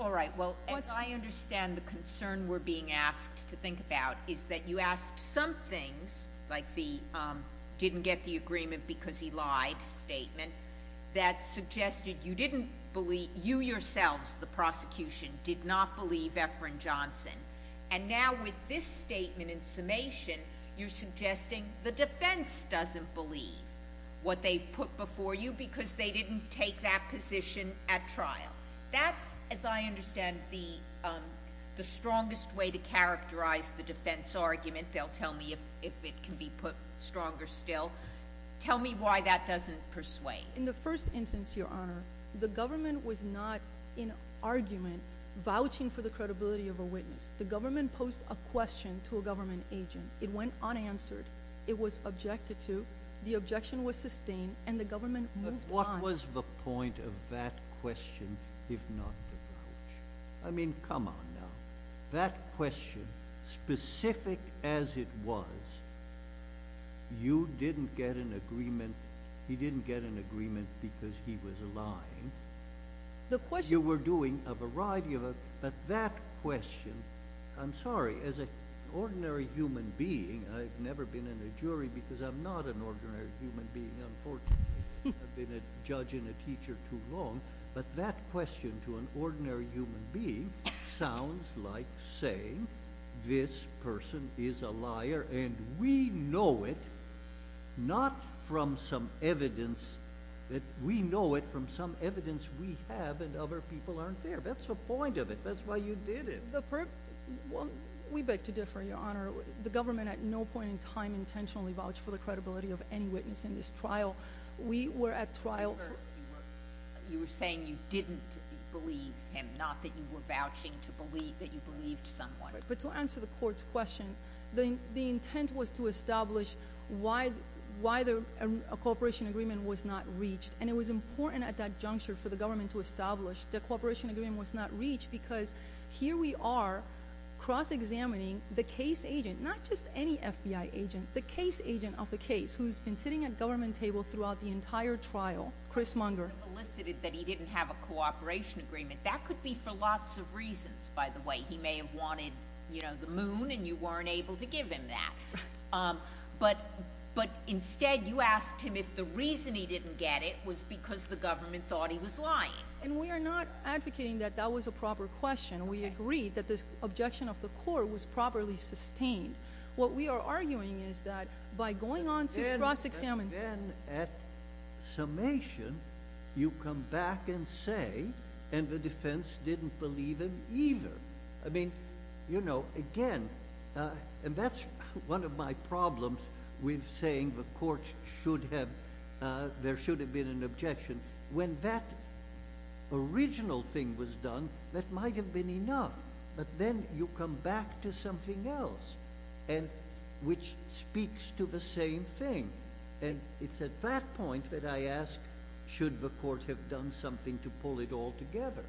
All right. Well, as I understand the concern we're being asked to think about is that you asked some things, like the didn't get the agreement because he lied statement, that suggested you didn't believe, you yourselves, the prosecution, did not believe Efren Johnson. And now with this statement in summation, you're suggesting the defense doesn't believe what they put before you because they didn't take that position at trial. That's, as I understand, the strongest way to characterize the defense argument. They'll tell me if it can be put stronger still. Tell me why that doesn't persuade. In the first instance, Your Honor, the government was not in argument, vouching for the credibility of a witness. The government posed a question to a government agent. It went unanswered. It was objected to. The objection was sustained, and the government moved on. What was the point of that question if not the question? I mean, come on now. That question, specific as it was, you didn't get an agreement. He didn't get an agreement because he was lying. The question— You were doing a variety of—but that question, I'm sorry, as an ordinary human being, I've never been in a jury because I'm not an ordinary human being, unfortunately. I've been a judge and a teacher too long. But that question to an ordinary human being sounds like saying this person is a liar and we know it, not from some evidence that we know it from some evidence we have and other people aren't there. That's the point of it. That's why you did it. We beg to differ, Your Honor. The government at no point in time intentionally vouched for the credibility of any witness in this trial. We were at trial— You were saying you didn't believe him, not that you were vouching to believe that you believed someone. But to answer the court's question, the intent was to establish why a cooperation agreement was not reached. And it was important at that juncture for the government to establish the cooperation agreement was not reached because here we are cross-examining the case agent, not just any FBI agent, the case agent of the case who's been sitting at government table throughout the entire trial. Chris Munger. He solicited that he didn't have a cooperation agreement. That could be for lots of reasons, by the way. He may have wanted, you know, the moon and you weren't able to give him that. But instead you asked him if the reason he didn't get it was because the government thought he was lying. And we are not advocating that that was a proper question. We agreed that the objection of the court was properly sustained. What we are arguing is that by going on to cross-examine. And then at summation, you come back and say, and the defense didn't believe him either. I mean, you know, again, and that's one of my problems with saying the court should have, there should have been an objection. When that original thing was done, that might have been enough. But then you come back to something else and which speaks to the same thing. And it's at that point that I ask, should the court have done something to pull it all together?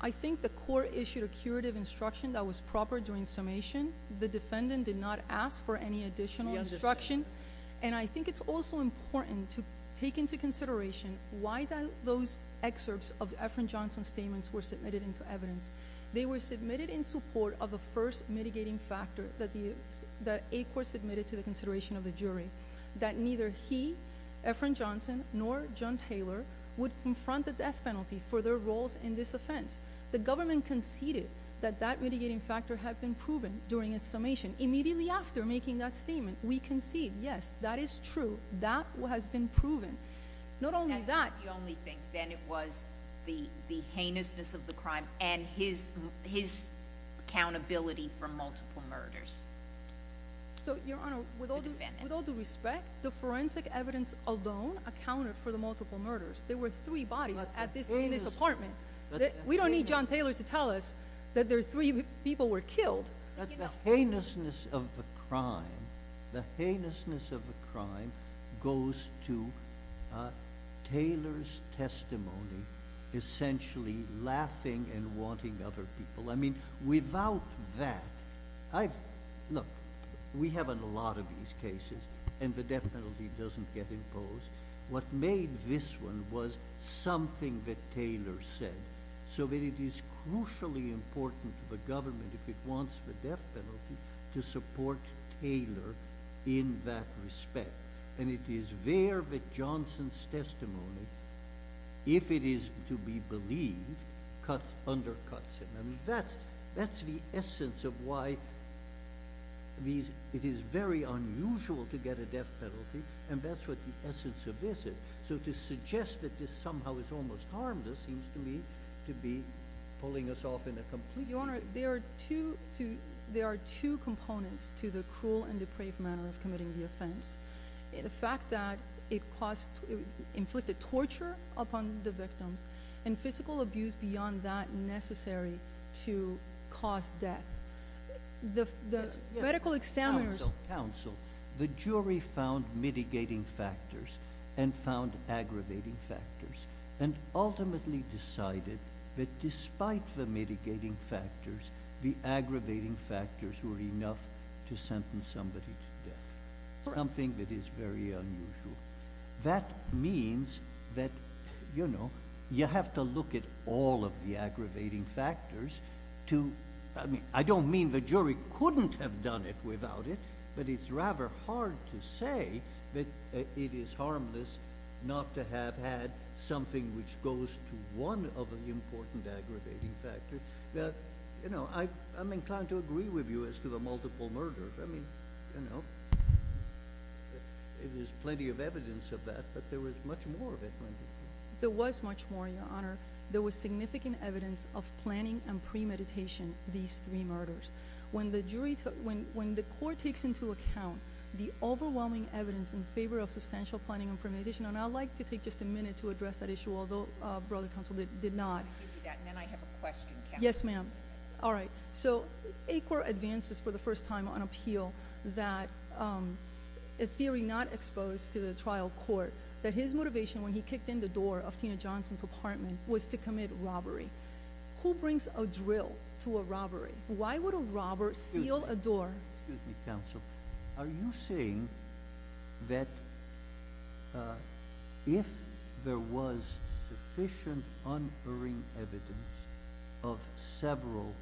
I think the court issued a curative instruction that was proper during summation. The defendant did not ask for any additional instruction. And I think it's also important to take into consideration why those excerpts of the they were submitted in support of the first mitigating factor that the, that a court submitted to the consideration of the jury that neither he, Efren Johnson, nor John Taylor would confront the death penalty for their roles in this offense. The government conceded that that mitigating factor had been proven during its summation immediately after making that statement. We concede. Yes, that is true. That has been proven. Not only that, then it was the, the heinousness of the crime and his, his accountability for multiple murders. So your honor, with all due respect, the forensic evidence alone accounted for the multiple murders. There were three bodies at this apartment. We don't need John Taylor to tell us that there are three people were killed. The heinousness of the crime, the heinousness of the crime goes to Taylor's testimony, essentially laughing and wanting other people. I mean, without that, I know we have a lot of these cases and the death penalty doesn't get imposed. What made this one was something that Taylor said. So that it is crucially important for the government, if it wants the death penalty to support Taylor in that respect. And it is there that Johnson's testimony, if it is to be believed, cuts, undercuts it. And that's, that's the essence of why these, it is very unusual to get a death penalty. And that's what the essence of this is. So to suggest that this somehow is almost harmless seems to me to be pulling us off in a complete. Your honor, there are two, there are two components to the cruel and depraved manner of committing the offense. The fact that it caused implicit torture upon the victim and physical abuse beyond that necessary to cause death. The medical examiner. Counsel, the jury found mitigating factors and found aggravating factors and ultimately decided that despite the mitigating factors, the aggravating factors were enough to sentence somebody to death. Something that is very unusual. That means that, you know, you have to look at all of the aggravating factors to, I mean, the jury couldn't have done it without it. But it's rather hard to say that it is harmless not to have had something which goes to one of the important aggravating factors that, you know, I, I'm inclined to agree with you as to the multiple murders. I mean, you know, there's plenty of evidence of that, but there was much more of it. There was much more, your honor. There was significant evidence of planning and premeditation these three murders. When the jury, when, when the court takes into account the overwhelming evidence in favor of substantial planning and premeditation, and I'd like to take just a minute to address that issue, although, uh, brother counsel did not. Yes, ma'am. All right. So ACOR advances for the first time on appeal that, um, a theory not exposed to the trial court that his motivation when he kicked in the door of Tina Johnson's apartment was to commit robbery. Who brings a drill to a robbery? Why would a robber steal a door? Excuse me, counsel. Are you saying that, uh, if there was sufficient unerring evidence of several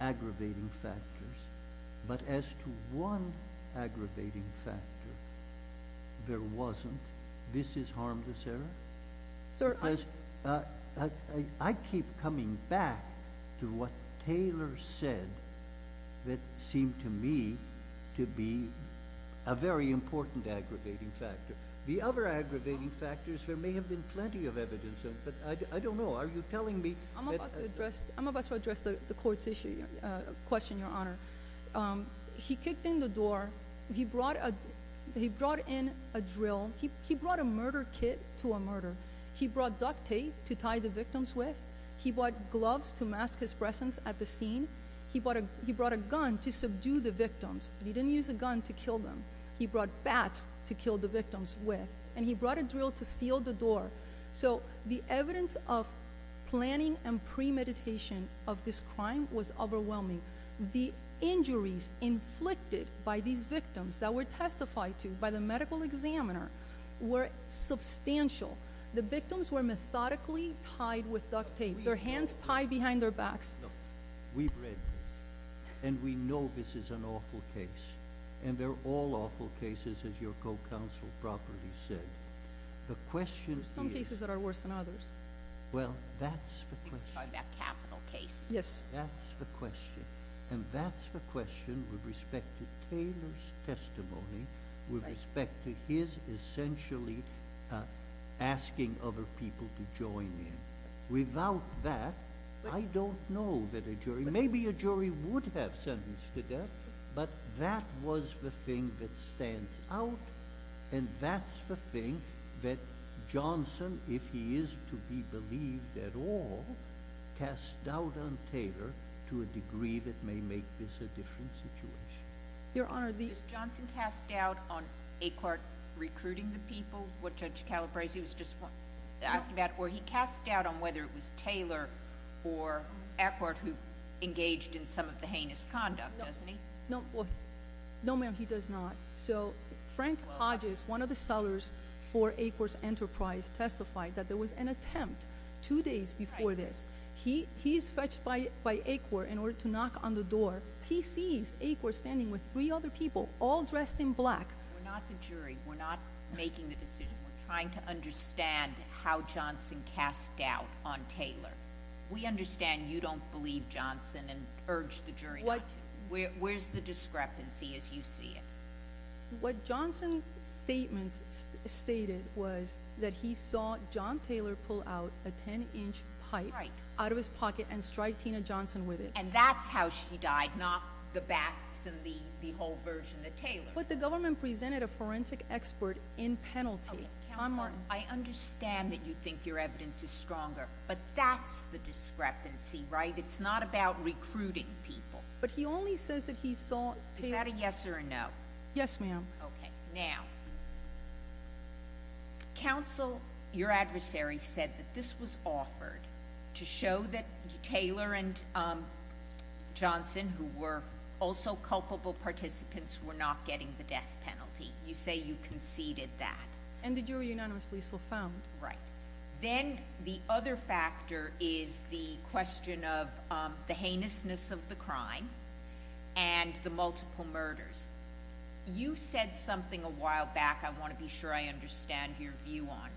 aggravating factors, but as to one aggravating factor, there wasn't, this is harmless error? Certainly. I keep coming back to what Taylor said that seemed to me to be a very important aggravating factor. The other aggravating factors, there may have been plenty of evidence, but I don't know. Are you telling me? I'm about to address the court's issue, uh, question, your honor. Um, he kicked in the door. He brought a, he brought in a drill. He brought a murder kit to a murder. He brought duct tape to tie the victims with. He bought gloves to mask his presence at the scene. He bought a, he brought a gun to subdue the victims. He didn't use a gun to kill them. He brought bats to kill the victims with, and he brought a drill to steal the door. So the evidence of planning and premeditation of this crime was overwhelming. The injuries inflicted by these victims that were testified to by the medical examiner were substantial. The victims were methodically tied with duct tape, their hands tied behind their backs. We've read, and we know this is an awful case, and they're all awful cases, as your co-counsel properly said. The question is... Some cases that are worse than others. Well, that's the question. Sorry, that counsel case. Yes. That's the question, and that's the question with respect to Taylor's testimony, with respect to his essentially asking other people to join him. Without that, I don't know that a jury, maybe a jury would have sentenced to death, but that was the thing that stands out, and that's the thing that Johnson, if he is to be believed at all, casts doubt on Taylor to a degree that may make this a different situation. Your Honor, the... Does Johnson cast doubt on Achort recruiting the people, which Judge Calabrese was just talking about, or he cast doubt on whether it was Taylor or Achort who engaged in some of the heinous conduct, doesn't he? No, well, no, ma'am, he does not. So Frank Hodges, one of the sellers for Achort's Enterprise, testified that there was an attempt two days before this. He is fetched by Achort in order to knock on the door. He sees Achort standing with three other people, all dressed in black. We're not the jury. We're not making the decision. We're trying to understand how Johnson cast doubt on Taylor. We understand you don't believe Johnson and urge the jury. Where's the discrepancy as you see it? What Johnson's statement stated was that he saw John Taylor pull out a 10-inch pipe out of his pocket and strike Tina Johnson with it. And that's how she died, not the backs and the whole version of Taylor. But the government presented a forensic expert in penalty. I understand that you think your evidence is stronger, but that's the discrepancy, right? It's not about recruiting people. But he only says that he saw Taylor... Is that a yes or a no? Yes, ma'am. Okay. Now, counsel, your adversary said that this was offered to show that Taylor and Johnson, who were also culpable participants, were not getting the death penalty. You say you conceded that. And the jury unanimously affirmed it. Right. Then the other factor is the question of the heinousness of the crime and the multiple murders. You said something a while back I want to be sure I understand your view on.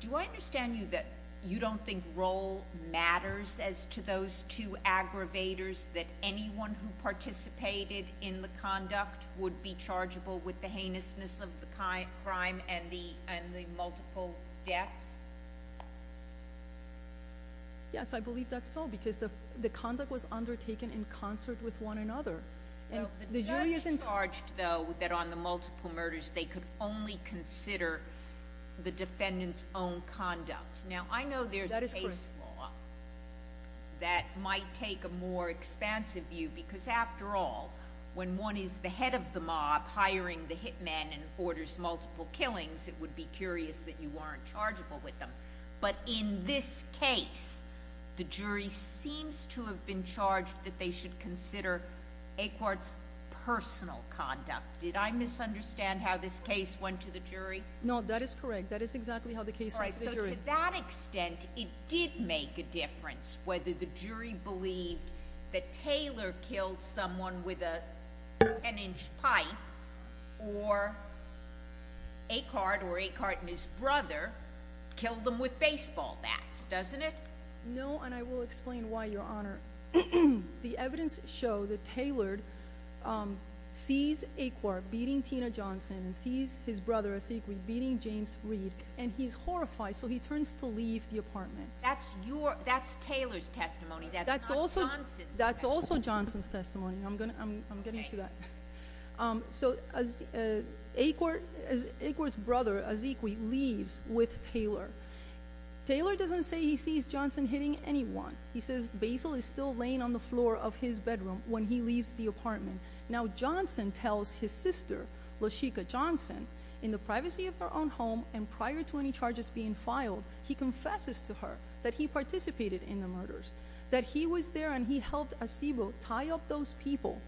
Do I understand you that you don't think role matters as to those two aggravators that anyone who participated in the conduct would be chargeable with the heinousness of the crime and the multiple deaths? Yes, I believe that's so, because the conduct was undertaken in concert with one another. The jury is in charge, though, that on the multiple murders, they could only consider the defendant's own conduct. Now, I know there's a law that might take a more expansive view, because after all, when one is the head of the mob hiring the hitman and orders multiple killings, it would be curious that you weren't chargeable with them. But in this case, the jury seems to have been charged that they should consider Acard's personal conduct. Did I misunderstand how this case went to the jury? No, that is correct. That is exactly how the case went to the jury. To that extent, it did make a difference whether the jury believed that Taylor killed someone with a 10-inch pipe or Acard or Acard and his brother killed them with baseball bats, No, and I will explain why, Your Honor. The evidence shows that Taylor sees Acard beating Tina Johnson, sees his brother, I think, beating James Reed, and he's horrified, so he turns to leave the apartment. That's Taylor's testimony, that's not Johnson's. That's also Johnson's testimony, and I'm getting to that. So Acard's brother, Azikiwe, leaves with Taylor. Taylor doesn't say he sees Johnson hitting anyone. He says Basil is still laying on the floor of his bedroom when he leaves the apartment. Now Johnson tells his sister, Lashika Johnson, in the privacy of her own home and prior to any charges being filed, he confesses to her that he participated in the murders, that he was there and he helped Azikiwe tie up those people,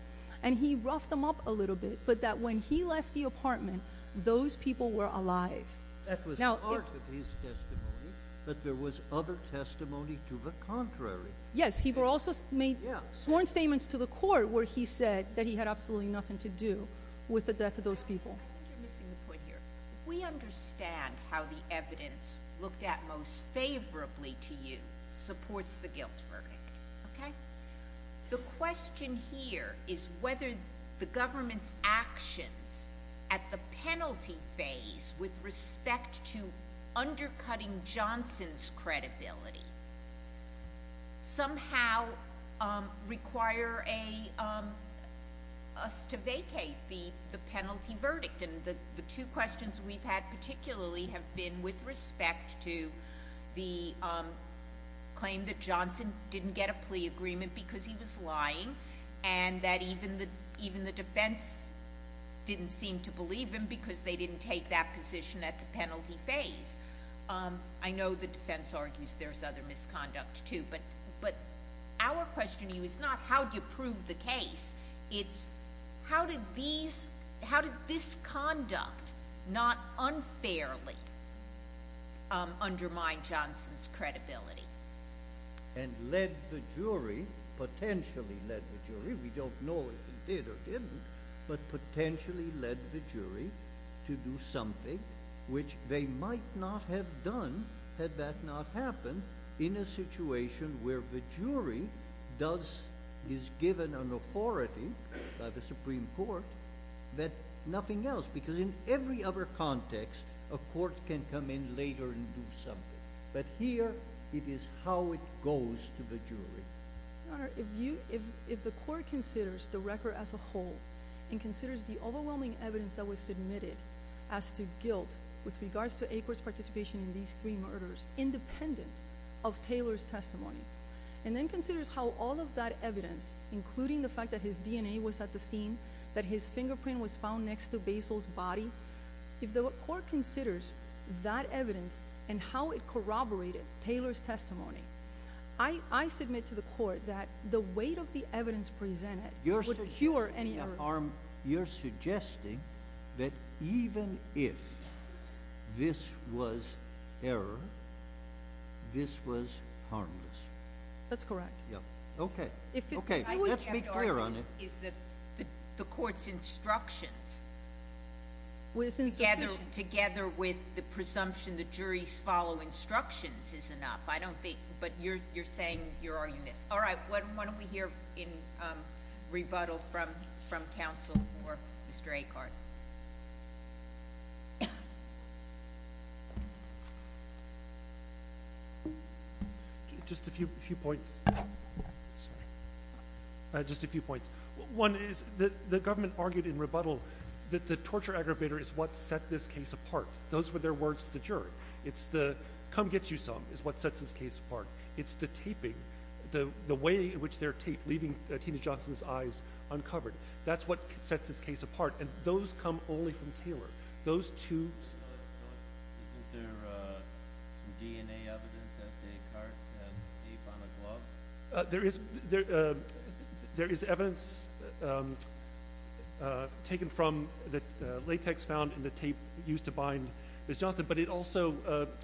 and he roughed them up a little bit so that when he left the apartment, those people were alive. That was part of his testimony, but there was other testimony to the contrary. Yes, he also made sworn statements to the court where he said that he had absolutely nothing to do with the death of those people. We understand how the evidence looked at most favorably to you supports the guilt verdict. The question here is whether the government's actions at the penalty phase with respect to undercutting Johnson's credibility somehow require us to vacate the penalty verdict. And the two questions we've had particularly have been with respect to the claim that Johnson didn't get a plea agreement because he was lying and that even the defense didn't seem to believe him because they didn't take that position at the penalty phase. I know the defense argues there's other misconduct too, but our questioning is not how do you prove the case, it's how did this conduct not unfairly undermine Johnson's credibility? And led the jury, potentially led the jury, we don't know if it did or didn't, but potentially led the jury to do something which they might not have done had that not happened in a situation where the jury is given an authority by the Supreme Court that nothing else, because in every other context a court can come in later and do something. But here it is how it goes to the jury. Your Honor, if the court considers the record as a whole and considers the overwhelming evidence that was submitted as to guilt with regards to April's participation in these three murders independent of Taylor's testimony, and then considers how all of that evidence, including the fact that his DNA was at the scene, that his fingerprint was found next to Basil's body, if the court considers that evidence and how it corroborated Taylor's testimony, I submit to the court that the weight of the evidence presented would secure any error. You're suggesting that even if this was error, this was harmless? That's correct. Yeah, okay, okay, let's be clear on it. The court's instructions, together with the presumption the jury's following instructions is enough. I don't think... But you're saying you're arguing... All right, why don't we hear in rebuttal from counsel for Straycard? Just a few points. Just a few points. One is that the government argued in rebuttal that the torture aggravator is what set this case apart. Those were their words to the jury. It's the, come get you some, is what sets this case apart. It's the taping, the way in which they're taping, leaving Tina Johnson's eyes uncovered. That's what sets this case apart, and those come only from Taylor. Those two... Is there DNA evidence that Straycard had tape on his glove? There is evidence taken from the latex found in the tape used to bind Ms. Johnson, but it also,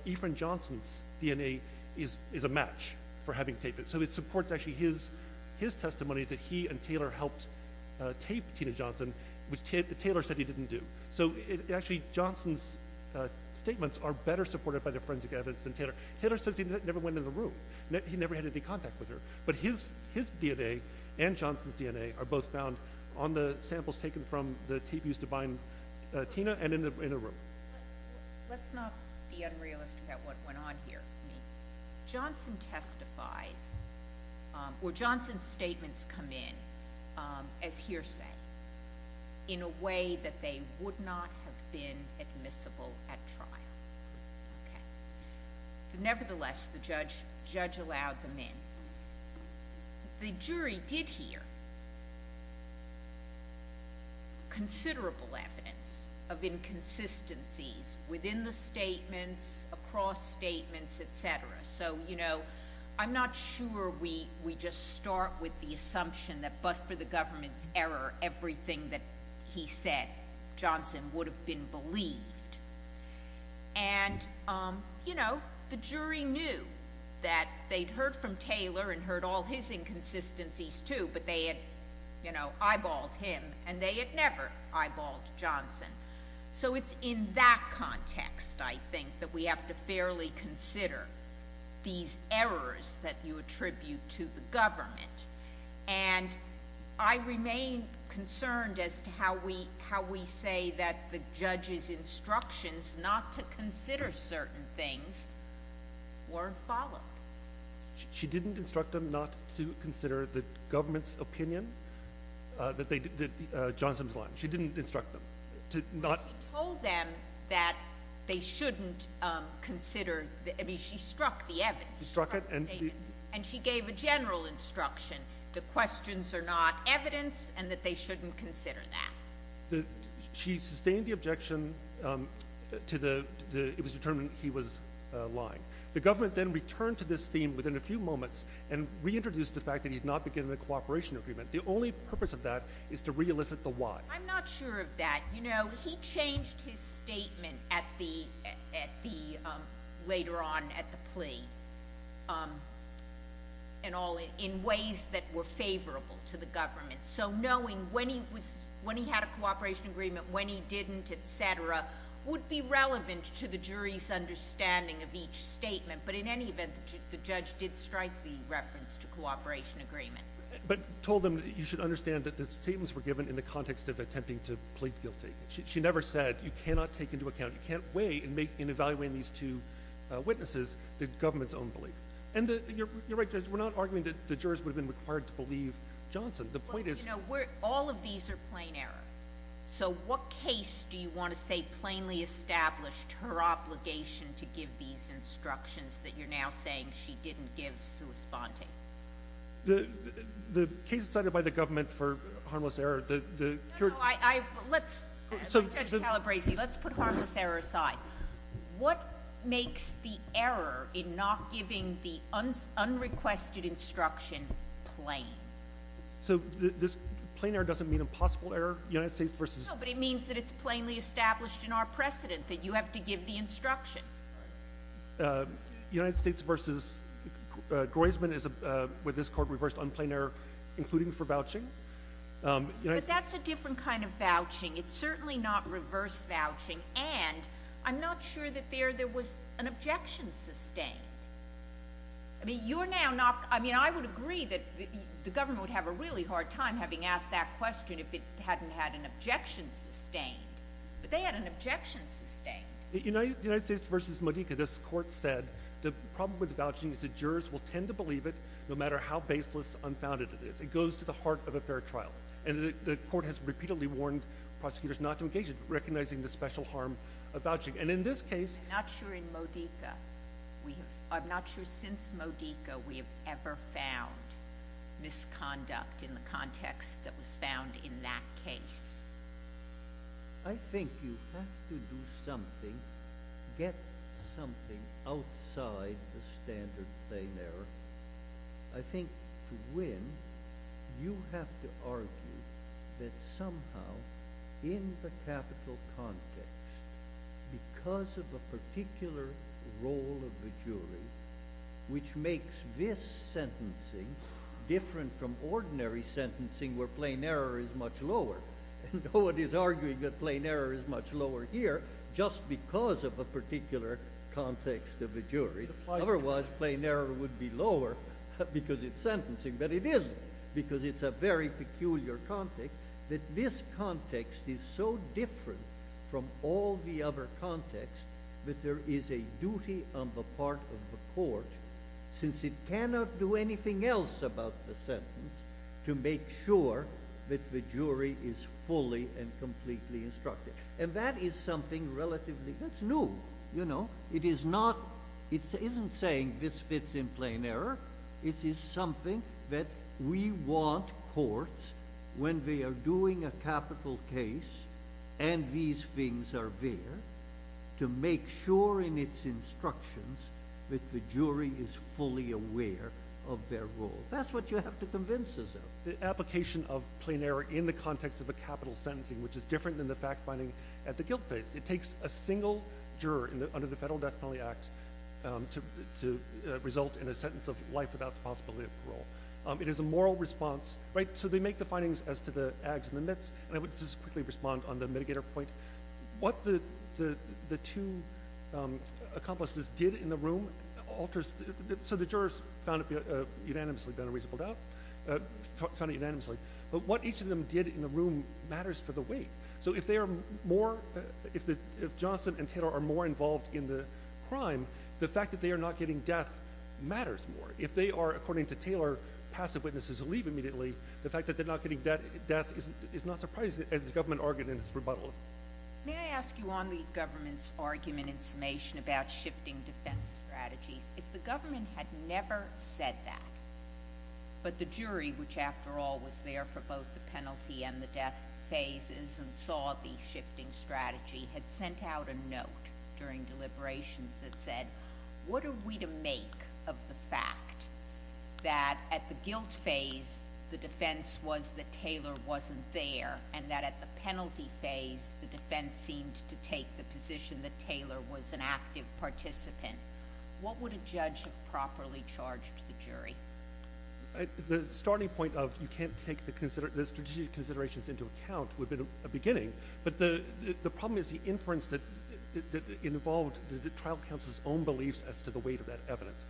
Ephraim Johnson's DNA is a match for having taped it. So it supports actually his testimony that he and Taylor helped tape Tina Johnson, which Taylor said he didn't do. So actually, Johnson's statements are better supported by the forensic evidence than Taylor. Taylor says he never went in the room. He never had any contact with her. But his DNA and Johnson's DNA are both found on the samples taken from the tape used to bind Tina and in the room. Let's not be unrealistic about what went on here. Johnson testified, or Johnson's statements come in, as here says, in a way that they would not have been admissible at trial. Nevertheless, the judge allowed them in. And the jury did hear considerable evidence of inconsistency within the statements, across statements, etc. So, you know, I'm not sure we just start with the assumption that, but for the government's error, everything that he said, Johnson would have been believed. And, you know, the jury knew that they'd heard from Taylor and heard all his inconsistencies, too, but they had, you know, eyeballed him and they had never eyeballed Johnson. So it's in that context, I think, that we have to fairly consider these errors that you attribute to the government. And I remain concerned as to how we how we say that the judge's instructions not to consider certain things were followed. She didn't instruct them not to consider the government's opinion, that they did Johnson's line. She didn't instruct them to not... Told them that they shouldn't consider, I mean, she struck the evidence. Struck it and she... The questions are not evidence and that they shouldn't consider that. She sustained the objection to the... It was determined he was lying. The government then returned to this theme within a few moments and reintroduced the fact that he's not beginning the cooperation agreement. The only purpose of that is to re-elicit the why. I'm not sure of that. You know, he changed his statement at the... That were favorable to the government. So knowing when he was... When he had a cooperation agreement, when he didn't, etc., would be relevant to the jury's understanding of each statement. But in any event, the judge did strike the reference to cooperation agreement. But told them that you should understand that the statements were given in the context of attempting to plead guilty. She never said you cannot take into account, you can't weigh and make... In evaluating these two witnesses, the government's own belief. And you're right, Judge, we're not arguing that the jurors would have been required to believe Johnson. The point is... Well, you know, all of these are plain errors. So what case do you want to say plainly established her obligation to give these instructions that you're now saying she didn't give to a respondent? The case cited by the government for harmless error... No, no, I... Let's, Judge Calabresi, let's put harmless error aside. What makes the error in not giving the unrequested instruction plain? So this plain error doesn't mean a possible error? United States versus... No, but it means that it's plainly established in our precedent that you have to give the instruction. United States versus Groysman is, with this court, reverse unplanned error, including for vouching. But that's a different kind of vouching. It's certainly not reverse vouching. And I'm not sure that there was an objection sustained. I mean, you're now not... I mean, I would agree that the government would have a really hard time having asked that question if it hadn't had an objection sustained. But they had an objection sustained. United States versus Modica, this court said the problem with the vouching is the jurors will tend to believe it no matter how baseless, unfounded it is. It goes to the heart of a fair trial. And the court has repeatedly warned prosecutors not to engage in recognizing the special harm of vouching. And in this case... Not sure in Modica. We are not sure since Modica we have ever found misconduct in the context that was found in that case. I think you have to do something, get something outside the standard plain error. I think to win, you have to argue that somehow in the capital context, because of a particular role of the jury, which makes this sentencing different from ordinary sentencing where plain error is much lower. And no one is arguing that plain error is much lower here just because of a particular context of the jury. Otherwise, plain error would be lower because it's sentencing. But it isn't because it's a very peculiar context that this context is so different from all the other contexts that there is a duty on the part of the court, since it cannot do anything else about the sentence, to make sure that the jury is fully and completely instructed. And that is something relatively new. It isn't saying this fits in plain error. It is something that we want courts, when they are doing a capital case and these things are there, to make sure in its instructions that the jury is fully aware of their role. That's what you have to convince us of. The application of plain error in the context of a capital sentencing, which is different than the fact finding at the guilt case. It takes a single juror under the Federal Death Penalty Act to result in a sentence of life without responsibility of parole. It is a moral response. So they make the findings as to the ads and the myths. And I would just quickly respond on the mitigator point. What the two accomplices did in the room alters... So the jurors found it unanimously that a reasonable doubt, found it unanimously. But what each of them did in the room matters for the weight. So if Johnson and Taylor are more involved in the crime, the fact that they are not getting death matters more. If they are, according to Taylor, passive witnesses who leave immediately, the fact that they are not getting death is not surprising as the government argued in its rebuttal. May I ask you on the government's argument and information about shifting defense strategy. If the government had never said that, but the jury, which after all was there for both the penalty and the death phases and saw the shifting strategy, had sent out a note during deliberations that said, what are we to make of the fact that at the guilt phase, the defense was that Taylor wasn't there, and that at the penalty phase, the defense seemed to take the position that Taylor was an active participant. The starting point of you can't take the strategic considerations into account would have been a beginning, but the problem is the inference that involved the trial counsel's own beliefs as to the weight of that evidence.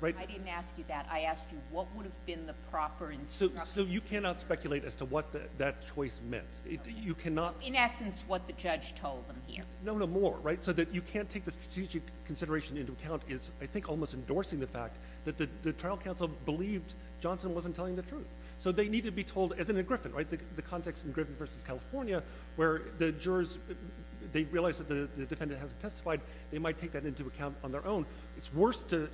I didn't ask you that. I asked you what would have been the proper instruction. So you cannot speculate as to what that choice meant. You cannot... In essence, what the judge told them, yes. No, no more, right? So that you can't take the strategic consideration into account is, I think, almost endorsing the fact that the trial counsel believed Johnson wasn't telling the truth. So they need to be told, as in Griffin, right? The context in Griffin versus California, where the jurors, they realize that the defendant hasn't testified, they might take that into account on their own. It's worse to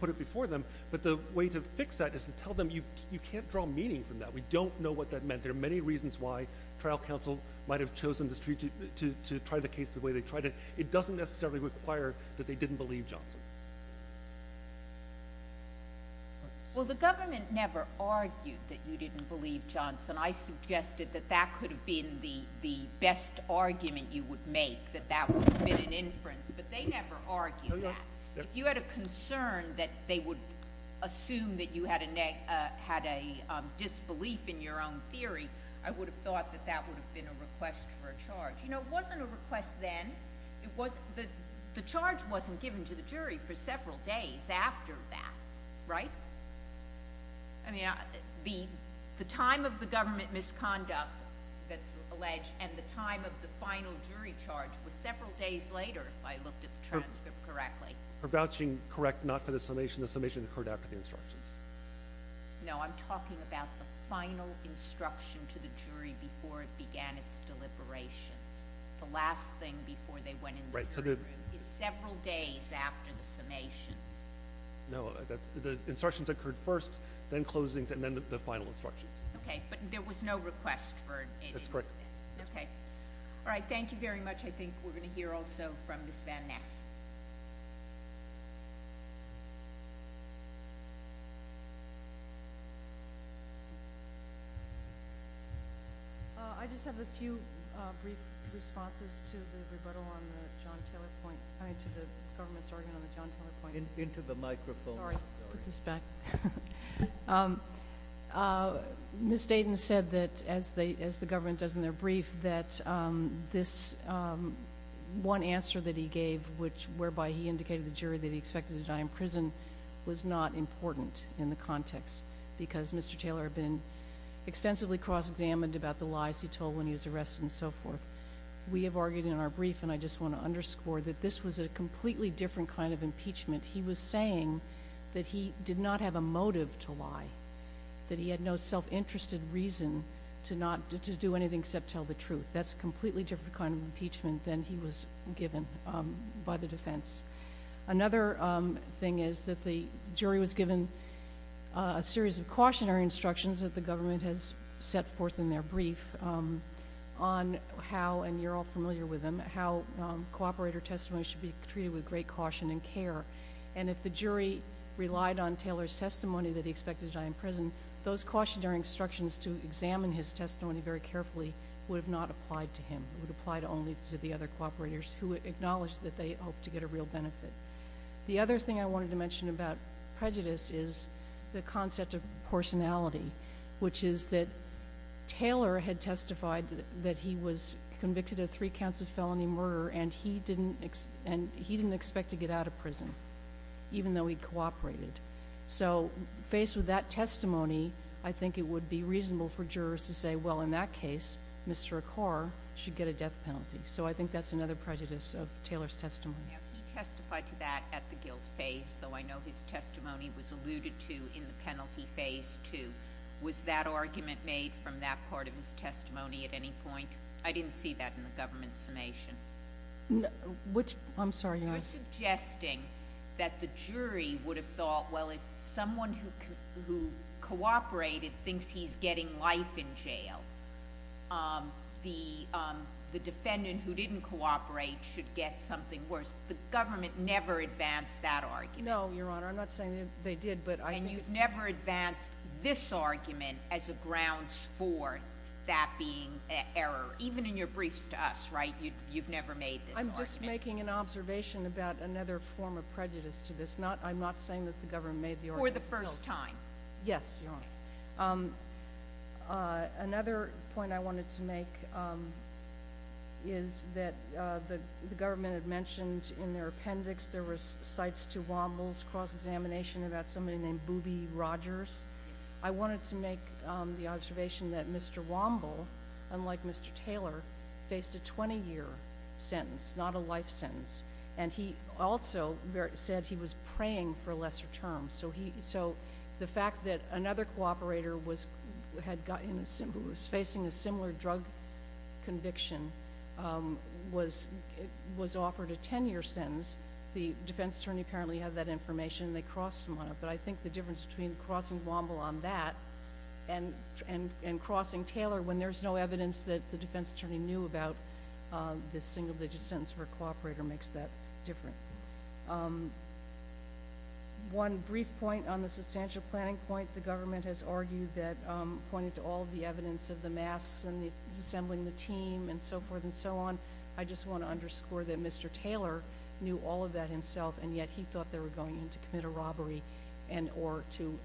put it before them, but the way to fix that is to tell them you can't draw meaning from that. We don't know what that meant. There are many reasons why trial counsel might have chosen to try the case the way they tried it. It doesn't necessarily require that they didn't believe Johnson. Well, the government never argued that you didn't believe Johnson. I suggested that that could have been the best argument you would make, that that would have been an inference, but they never argued that. If you had a concern that they would assume that you had a disbelief in your own theory, I would have thought that that would have been a request for a charge. You know, it wasn't a request then. The charge wasn't given to the jury for several days after that, right? I mean, the time of the government misconduct that's alleged and the time of the final jury charge was several days later, if I looked at the transcript correctly. For vouching correct not for the summation, the summation occurred after the instruction. No, I'm talking about the final instruction to the jury before it began its deliberation. The last thing before they went in. Right, so it's several days after the summation. No, the instructions occurred first, then closings, and then the final instruction. Okay, but there was no request for it. That's correct. Okay. All right. Thank you very much. I think we're going to hear also from Ms. Van Nacken. I just have a few brief responses to the government's argument on the John Taylor Fund. Into the microphone. Ms. Dayton said that as the government does in their brief, that this one answer that he gave whereby he indicated to the jury that he expected to die in prison was not important in the context because Mr. Taylor had been extensively cross-examined about the lies he told when he was arrested and so forth. We have argued in our brief, and I just want to underscore that this was a completely different kind of impeachment. He was saying that he did not have a motive to lie, that he had no self-interested reason to not just do anything except tell the truth. That's a completely different kind of impeachment than he was given by the defense. Another thing is that the jury was given a series of cautionary instructions that the government has set forth in their brief on how, and you're all familiar with them, how cooperator testimony should be treated with great caution and care, and if the jury relied on Taylor's testimony that he expected to die in prison, those cautionary instructions to examine his testimony very carefully would have not applied to him. It would apply only to the other cooperators who acknowledged that they hoped to get a real benefit. The other thing I wanted to mention about prejudice is the concept of portionality, which is that Taylor had testified that he was convicted of three counts of felony murder and he didn't expect to get out of prison, even though he cooperated. So, faced with that testimony, I think it would be reasonable for jurors to say, well, in that case, Mr. Acar should get a death penalty. So, I think that's another prejudice of Taylor's testimony. Yes, he testified to that at the guilt phase, so I know his testimony was alluded to in the penalty phase, too. Was that argument made from that part of his testimony at any point? I didn't see that in the government summation. I'm sorry, go ahead. I'm suggesting that the jury would have thought, well, if someone who cooperated thinks he's getting life in jail, the defendant who didn't cooperate should get something worse. The government never advanced that argument. No, Your Honor, I'm not saying they did, but I think— And you've never advanced this argument as a grounds for that being an error, even in your briefs to us, right? You've never made this argument. I'm just making an observation about another form of prejudice to this. I'm not saying that the government made the argument. For the first time. Yes, Your Honor. Another point I wanted to make is that the government had mentioned in their appendix there were cites to Wamble's cross-examination about somebody named Boobie Rogers. I wanted to make the observation that Mr. Wamble, unlike Mr. Taylor, faced a 20-year sentence, not a life sentence, and he also said he was praying for lesser terms. So the fact that another cooperator was facing a similar drug conviction was offered a 10-year sentence. The defense attorney apparently had that information, and they crossed him on it. But I think the difference between crossing Wamble on that and crossing Taylor when there's no evidence that the defense attorney knew about this single-digit sentence for a cooperator makes that different. One brief point on the substantial planning point. The government has argued that, pointing to all the evidence of the masks and assembling the team and so forth and so on, I just want to underscore that Mr. Taylor knew all of that himself, and yet he thought they were going in to commit a robbery and or to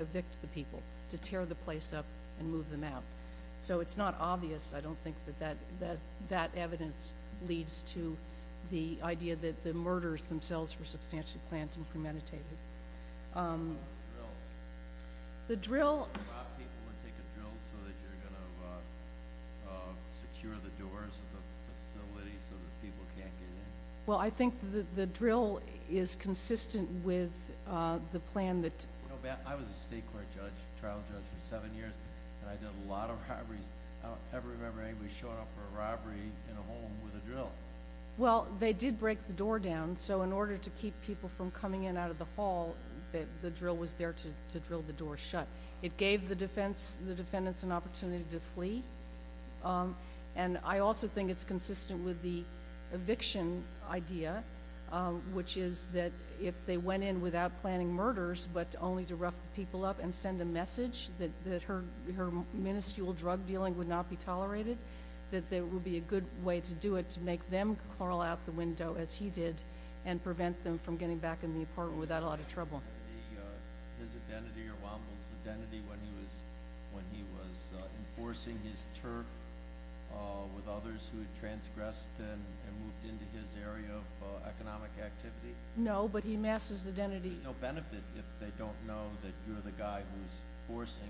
evict the people, to tear the place up and move them out. So it's not obvious. I don't think that that evidence leads to the idea that the murders themselves were substantial plans and premeditated. The drill... Well, I think the drill is consistent with the plan that... I was a state court judge, trial judge for seven years, and I did a lot of robberies. I don't ever remember anybody showing up for a robbery in a home with a drill. Well, they did break the door down, so in order to keep people from coming in out of the hall, the drill was there to drill the door shut. It gave the defendants an opportunity to flee. And I also think it's consistent with the eviction idea, which is that if they went in without planning murders, but only to rough the people up and send a message that her miniscule drug dealing would not be tolerated, that there would be a good way to do it to make them crawl out the window, as he did, and prevent them from getting back in the apartment without a lot of trouble. Did he lose identity or lost his identity when he was enforcing his term with others who had transgressed and moved into his area of economic activity? No, but he lost his identity. No benefit if they don't know that you're the guy who's enforcing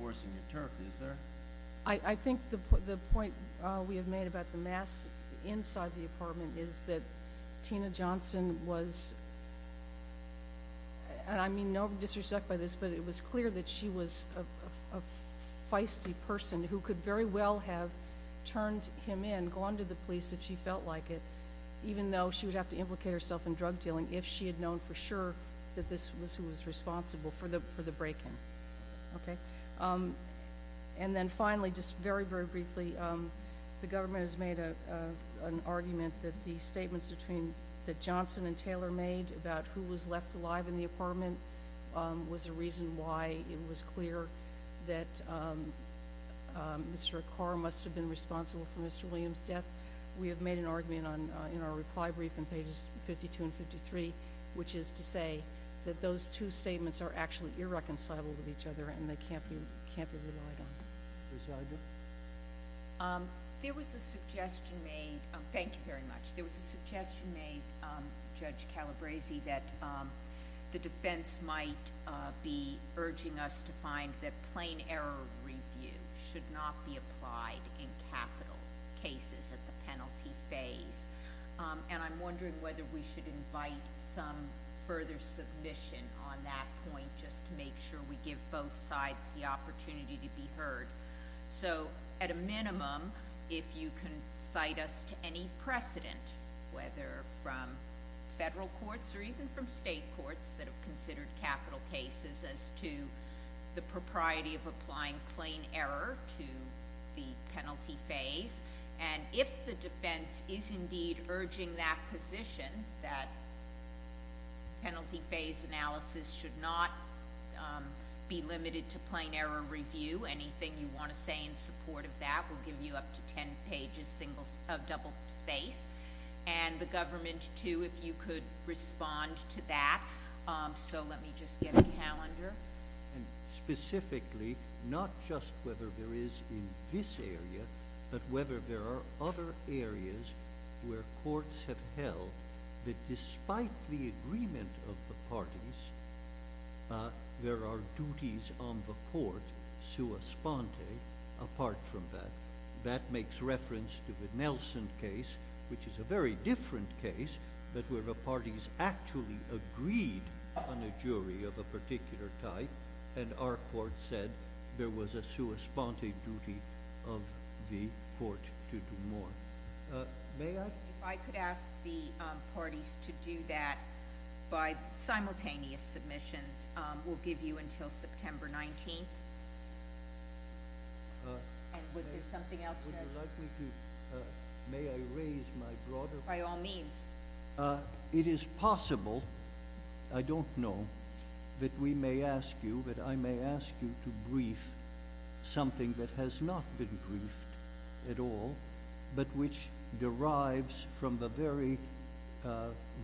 the turf, is there? I think the point we have made about the mask inside the apartment is that Tina Johnson was, and I mean no disrespect by this, but it was clear that she was a feisty person who could very well have turned him in, gone to the police if she felt like it, even though she would have to implicate herself in drug dealing if she had known for sure that this person was responsible for the break-in, okay? And then finally, just very, very briefly, the government has made an argument that the statements between Johnson and Taylor made about who was left alive in the apartment was a reason why it was clear that Mr. Carr must have been responsible for Mr. Williams' death. We have made an argument in our required brief in pages 52 and 53, which is to say that those two statements are actually irreconcilable with each other and they can't be relied on. There was a suggestion made, thank you very much, there was a suggestion made, Judge Calabresi, that the defense might be urging us to find that plain error review should not be applied in capital cases at the penalty phase, and I'm wondering whether we should invite some further submission on that point, just to make sure we give both sides the opportunity to be heard. So at a minimum, if you can cite us to any precedent, whether from federal courts or even from state courts that have considered capital cases as to the propriety of applying plain error to the penalty phase, and if the defense is indeed urging that position that penalty phase analysis should not be limited to plain error review, anything you want to say in support of that will give you up to 10 pages of double space, and the government too, if you could respond to that. So let me just get a calendar. And specifically, not just whether there is in this area, but whether there are other areas where courts have held that despite the agreement of the parties, there are duties on the court, sua sponte, apart from that. That makes reference to the Nelson case, which is a very different case, but where the parties actually agreed on a jury of a particular type, and our court said there was a sua sponte duty of the court to do more. May I? I could ask the parties to do that by all means. It is possible, I don't know, that we may ask you, that I may ask you to brief something that has not been briefed at all, but which derives from the very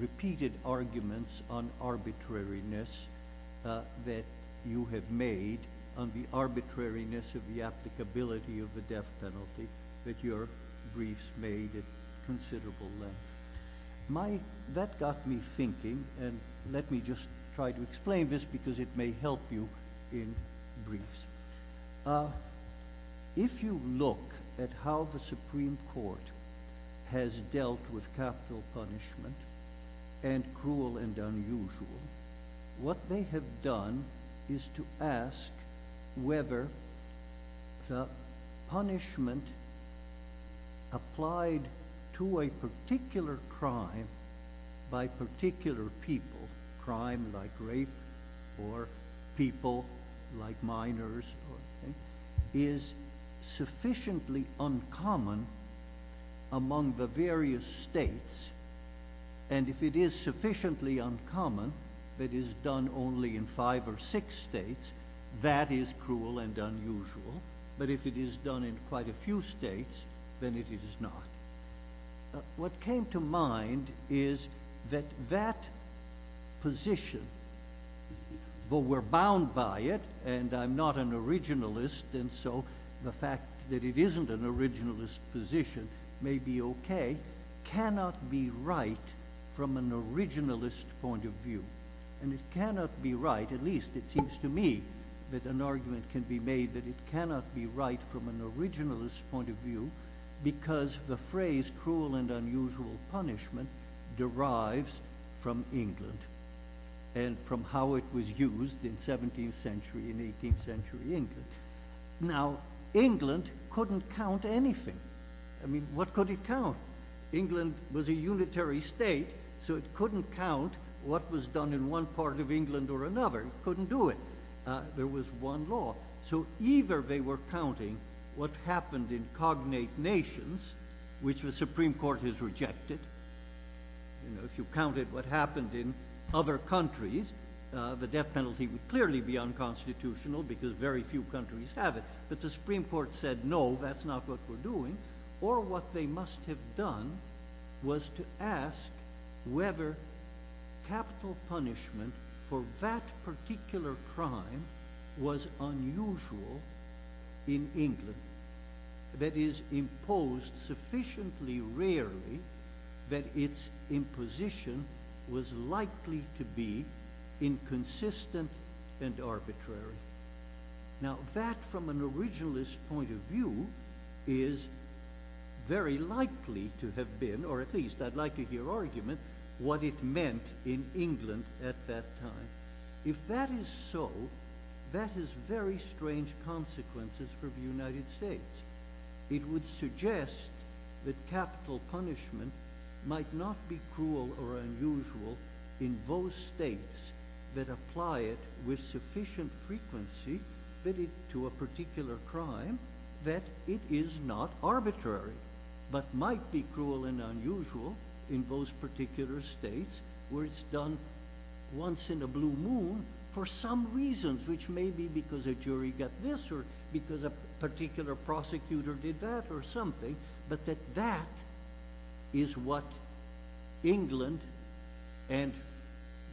repeated arguments on arbitrariness that you had made on the arbitrariness of the applicability of the death penalty that your briefs made at considerable length. That got me thinking, and let me just try to explain this because it may help you in briefs. If you look at how the cruel and unusual, what they have done is to ask whether the punishment applied to a particular crime by particular people, crime like rape or people like minors, is sufficiently uncommon among the various states, and if it is sufficiently uncommon, that is done only in five or six states, that is cruel and unusual, but if it is done in quite a few states, then it is not. What came to mind is that that position, though we're bound by it, and I'm not an originalist, and so the fact that it isn't an originalist position may be okay, cannot be right from an originalist point of view, and it cannot be right, at least it seems to me that an argument can be made that it cannot be right from an originalist point of view because the phrase cruel and unusual punishment derives from England and from how it was used in 17th century and 18th century England. Now, England couldn't count anything. I mean, what could it count? England was a unitary state, so it couldn't count what was done in one part of England or another. It couldn't do it. There was one law, so either they were counting what happened in cognate nations, which the Supreme Court has rejected. If you counted what happened in other countries, the death penalty would clearly be unconstitutional because very few countries have it, but the Supreme Court said no, that's not what we're doing, or what they must have done was to ask whether capital punishment for that particular crime was unusual in England, that is, imposed sufficiently rarely that its imposition was likely to be inconsistent and arbitrary. Now, that from an originalist point of view is very likely to have been, or at least I'd like to hear argument, what it meant in England at that time. If that is so, that has very strange consequences for the United States. It would suggest that capital punishment might not be cruel or unusual in those states that apply it with sufficient frequency fitted to a particular crime, that it is not arbitrary, but might be cruel and unusual in those particular states where it's done once in a blue moon for some reasons, which may be because a jury got this or because a particular prosecutor did that or something, but that that is what England and,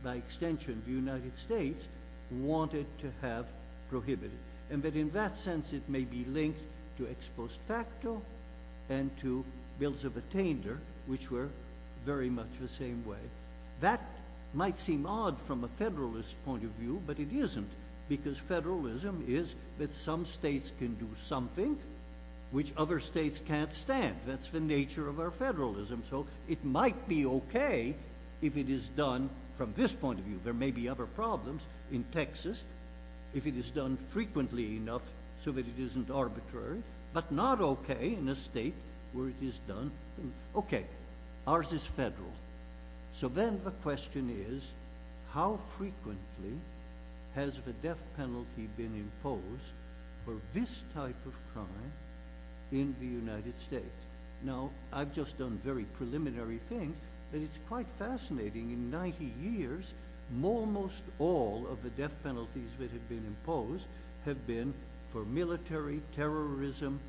by extension, the United States wanted to have prohibited, and that in that sense it may be that might seem odd from a federalist point of view, but it isn't, because federalism is that some states can do something which other states can't stand. That's the nature of our federalism, so it might be okay if it is done from this point of view. There may be other problems in Texas if it is done frequently enough so that it isn't arbitrary, but not okay in a state where it is okay. Ours is federal. So then the question is, how frequently has the death penalty been imposed for this type of crime in the United States? Now, I've just done very preliminary things, but it's quite fascinating. In 90 years, almost all of the death penalties that have been imposed have been for military terrorism,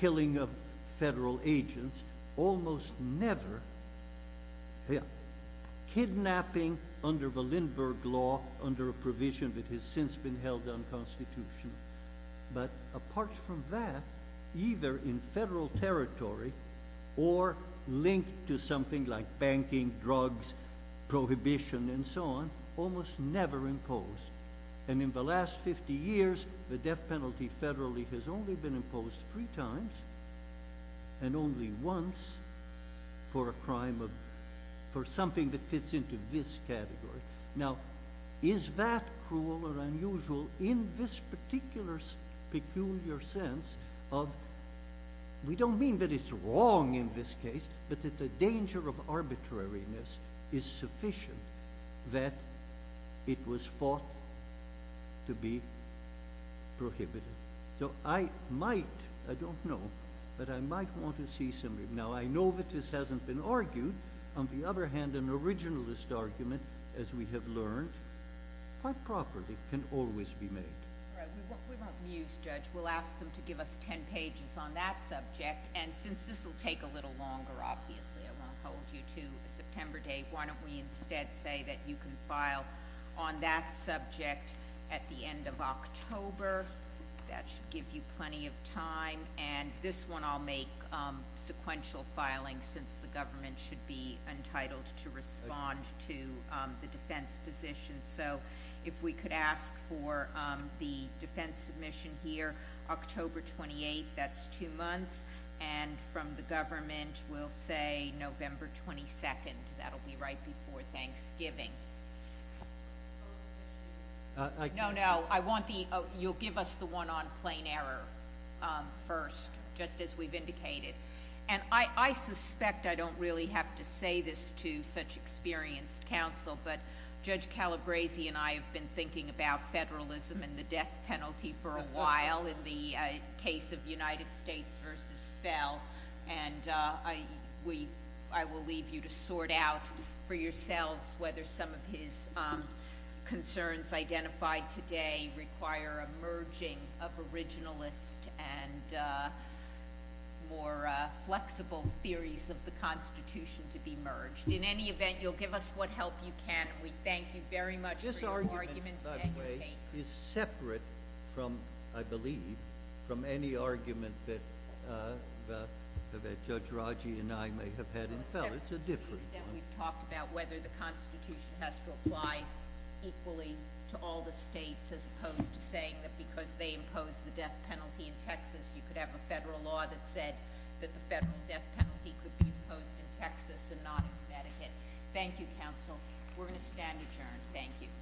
killing of federal agents, almost never kidnapping under the Lindbergh law, under a provision that has since been held unconstitutional, but apart from that, either in federal territory or linked to something like banking, drugs, prohibition, and so on, almost never imposed, and in the last 50 years, the death penalty federally has only been imposed three times and only once for a crime of, for something that fits into this category. Now, is that cruel or unusual in this particular peculiar sense of, we don't mean that it's wrong in this case, but that the danger of arbitrariness is sufficient that it was fought to be prohibited. So I might, I don't know, but I might want to see something. Now, I know that this hasn't been argued. On the other hand, an originalist argument, as we have learned, quite properly, can always be made. Right, we won't use Judge. We'll ask him to give us 10 pages on that subject, and since this will take a little longer, obviously, and I'll hold you to September date, why don't we instead say that you can file on that subject at the end of October. That should give you plenty of time, and this one I'll make sequential filing since the government should be entitled to respond to the defense position. So if we could ask for the defense submission here, October 28, that's two months, and from the government, we'll say November 22nd. That'll be right before Thanksgiving. No, no, I want the, you'll give us the one on plain error first, just as we've And I suspect I don't really have to say this to such experienced counsel, but Judge Calabresi and I have been thinking about federalism and the death penalty for a while in the case of United States versus Bell, and I will leave you to sort out for yourselves whether some of his concerns identified today require a merging of originalist and more flexible theories of the Constitution to be merged. In any event, you'll give us what help you can. We thank you very much for your arguments. This argument, by the way, is separate from, I believe, from any argument that Judge Raji and I may have had in federalism. And we've talked about whether the Constitution has to apply equally to all the states as opposed to saying that because they imposed the death penalty in Texas, you could have a federal law that said that the federal death penalty could be imposed in Texas and not in Connecticut. Thank you, counsel. We're going to stand adjourned. Thank you.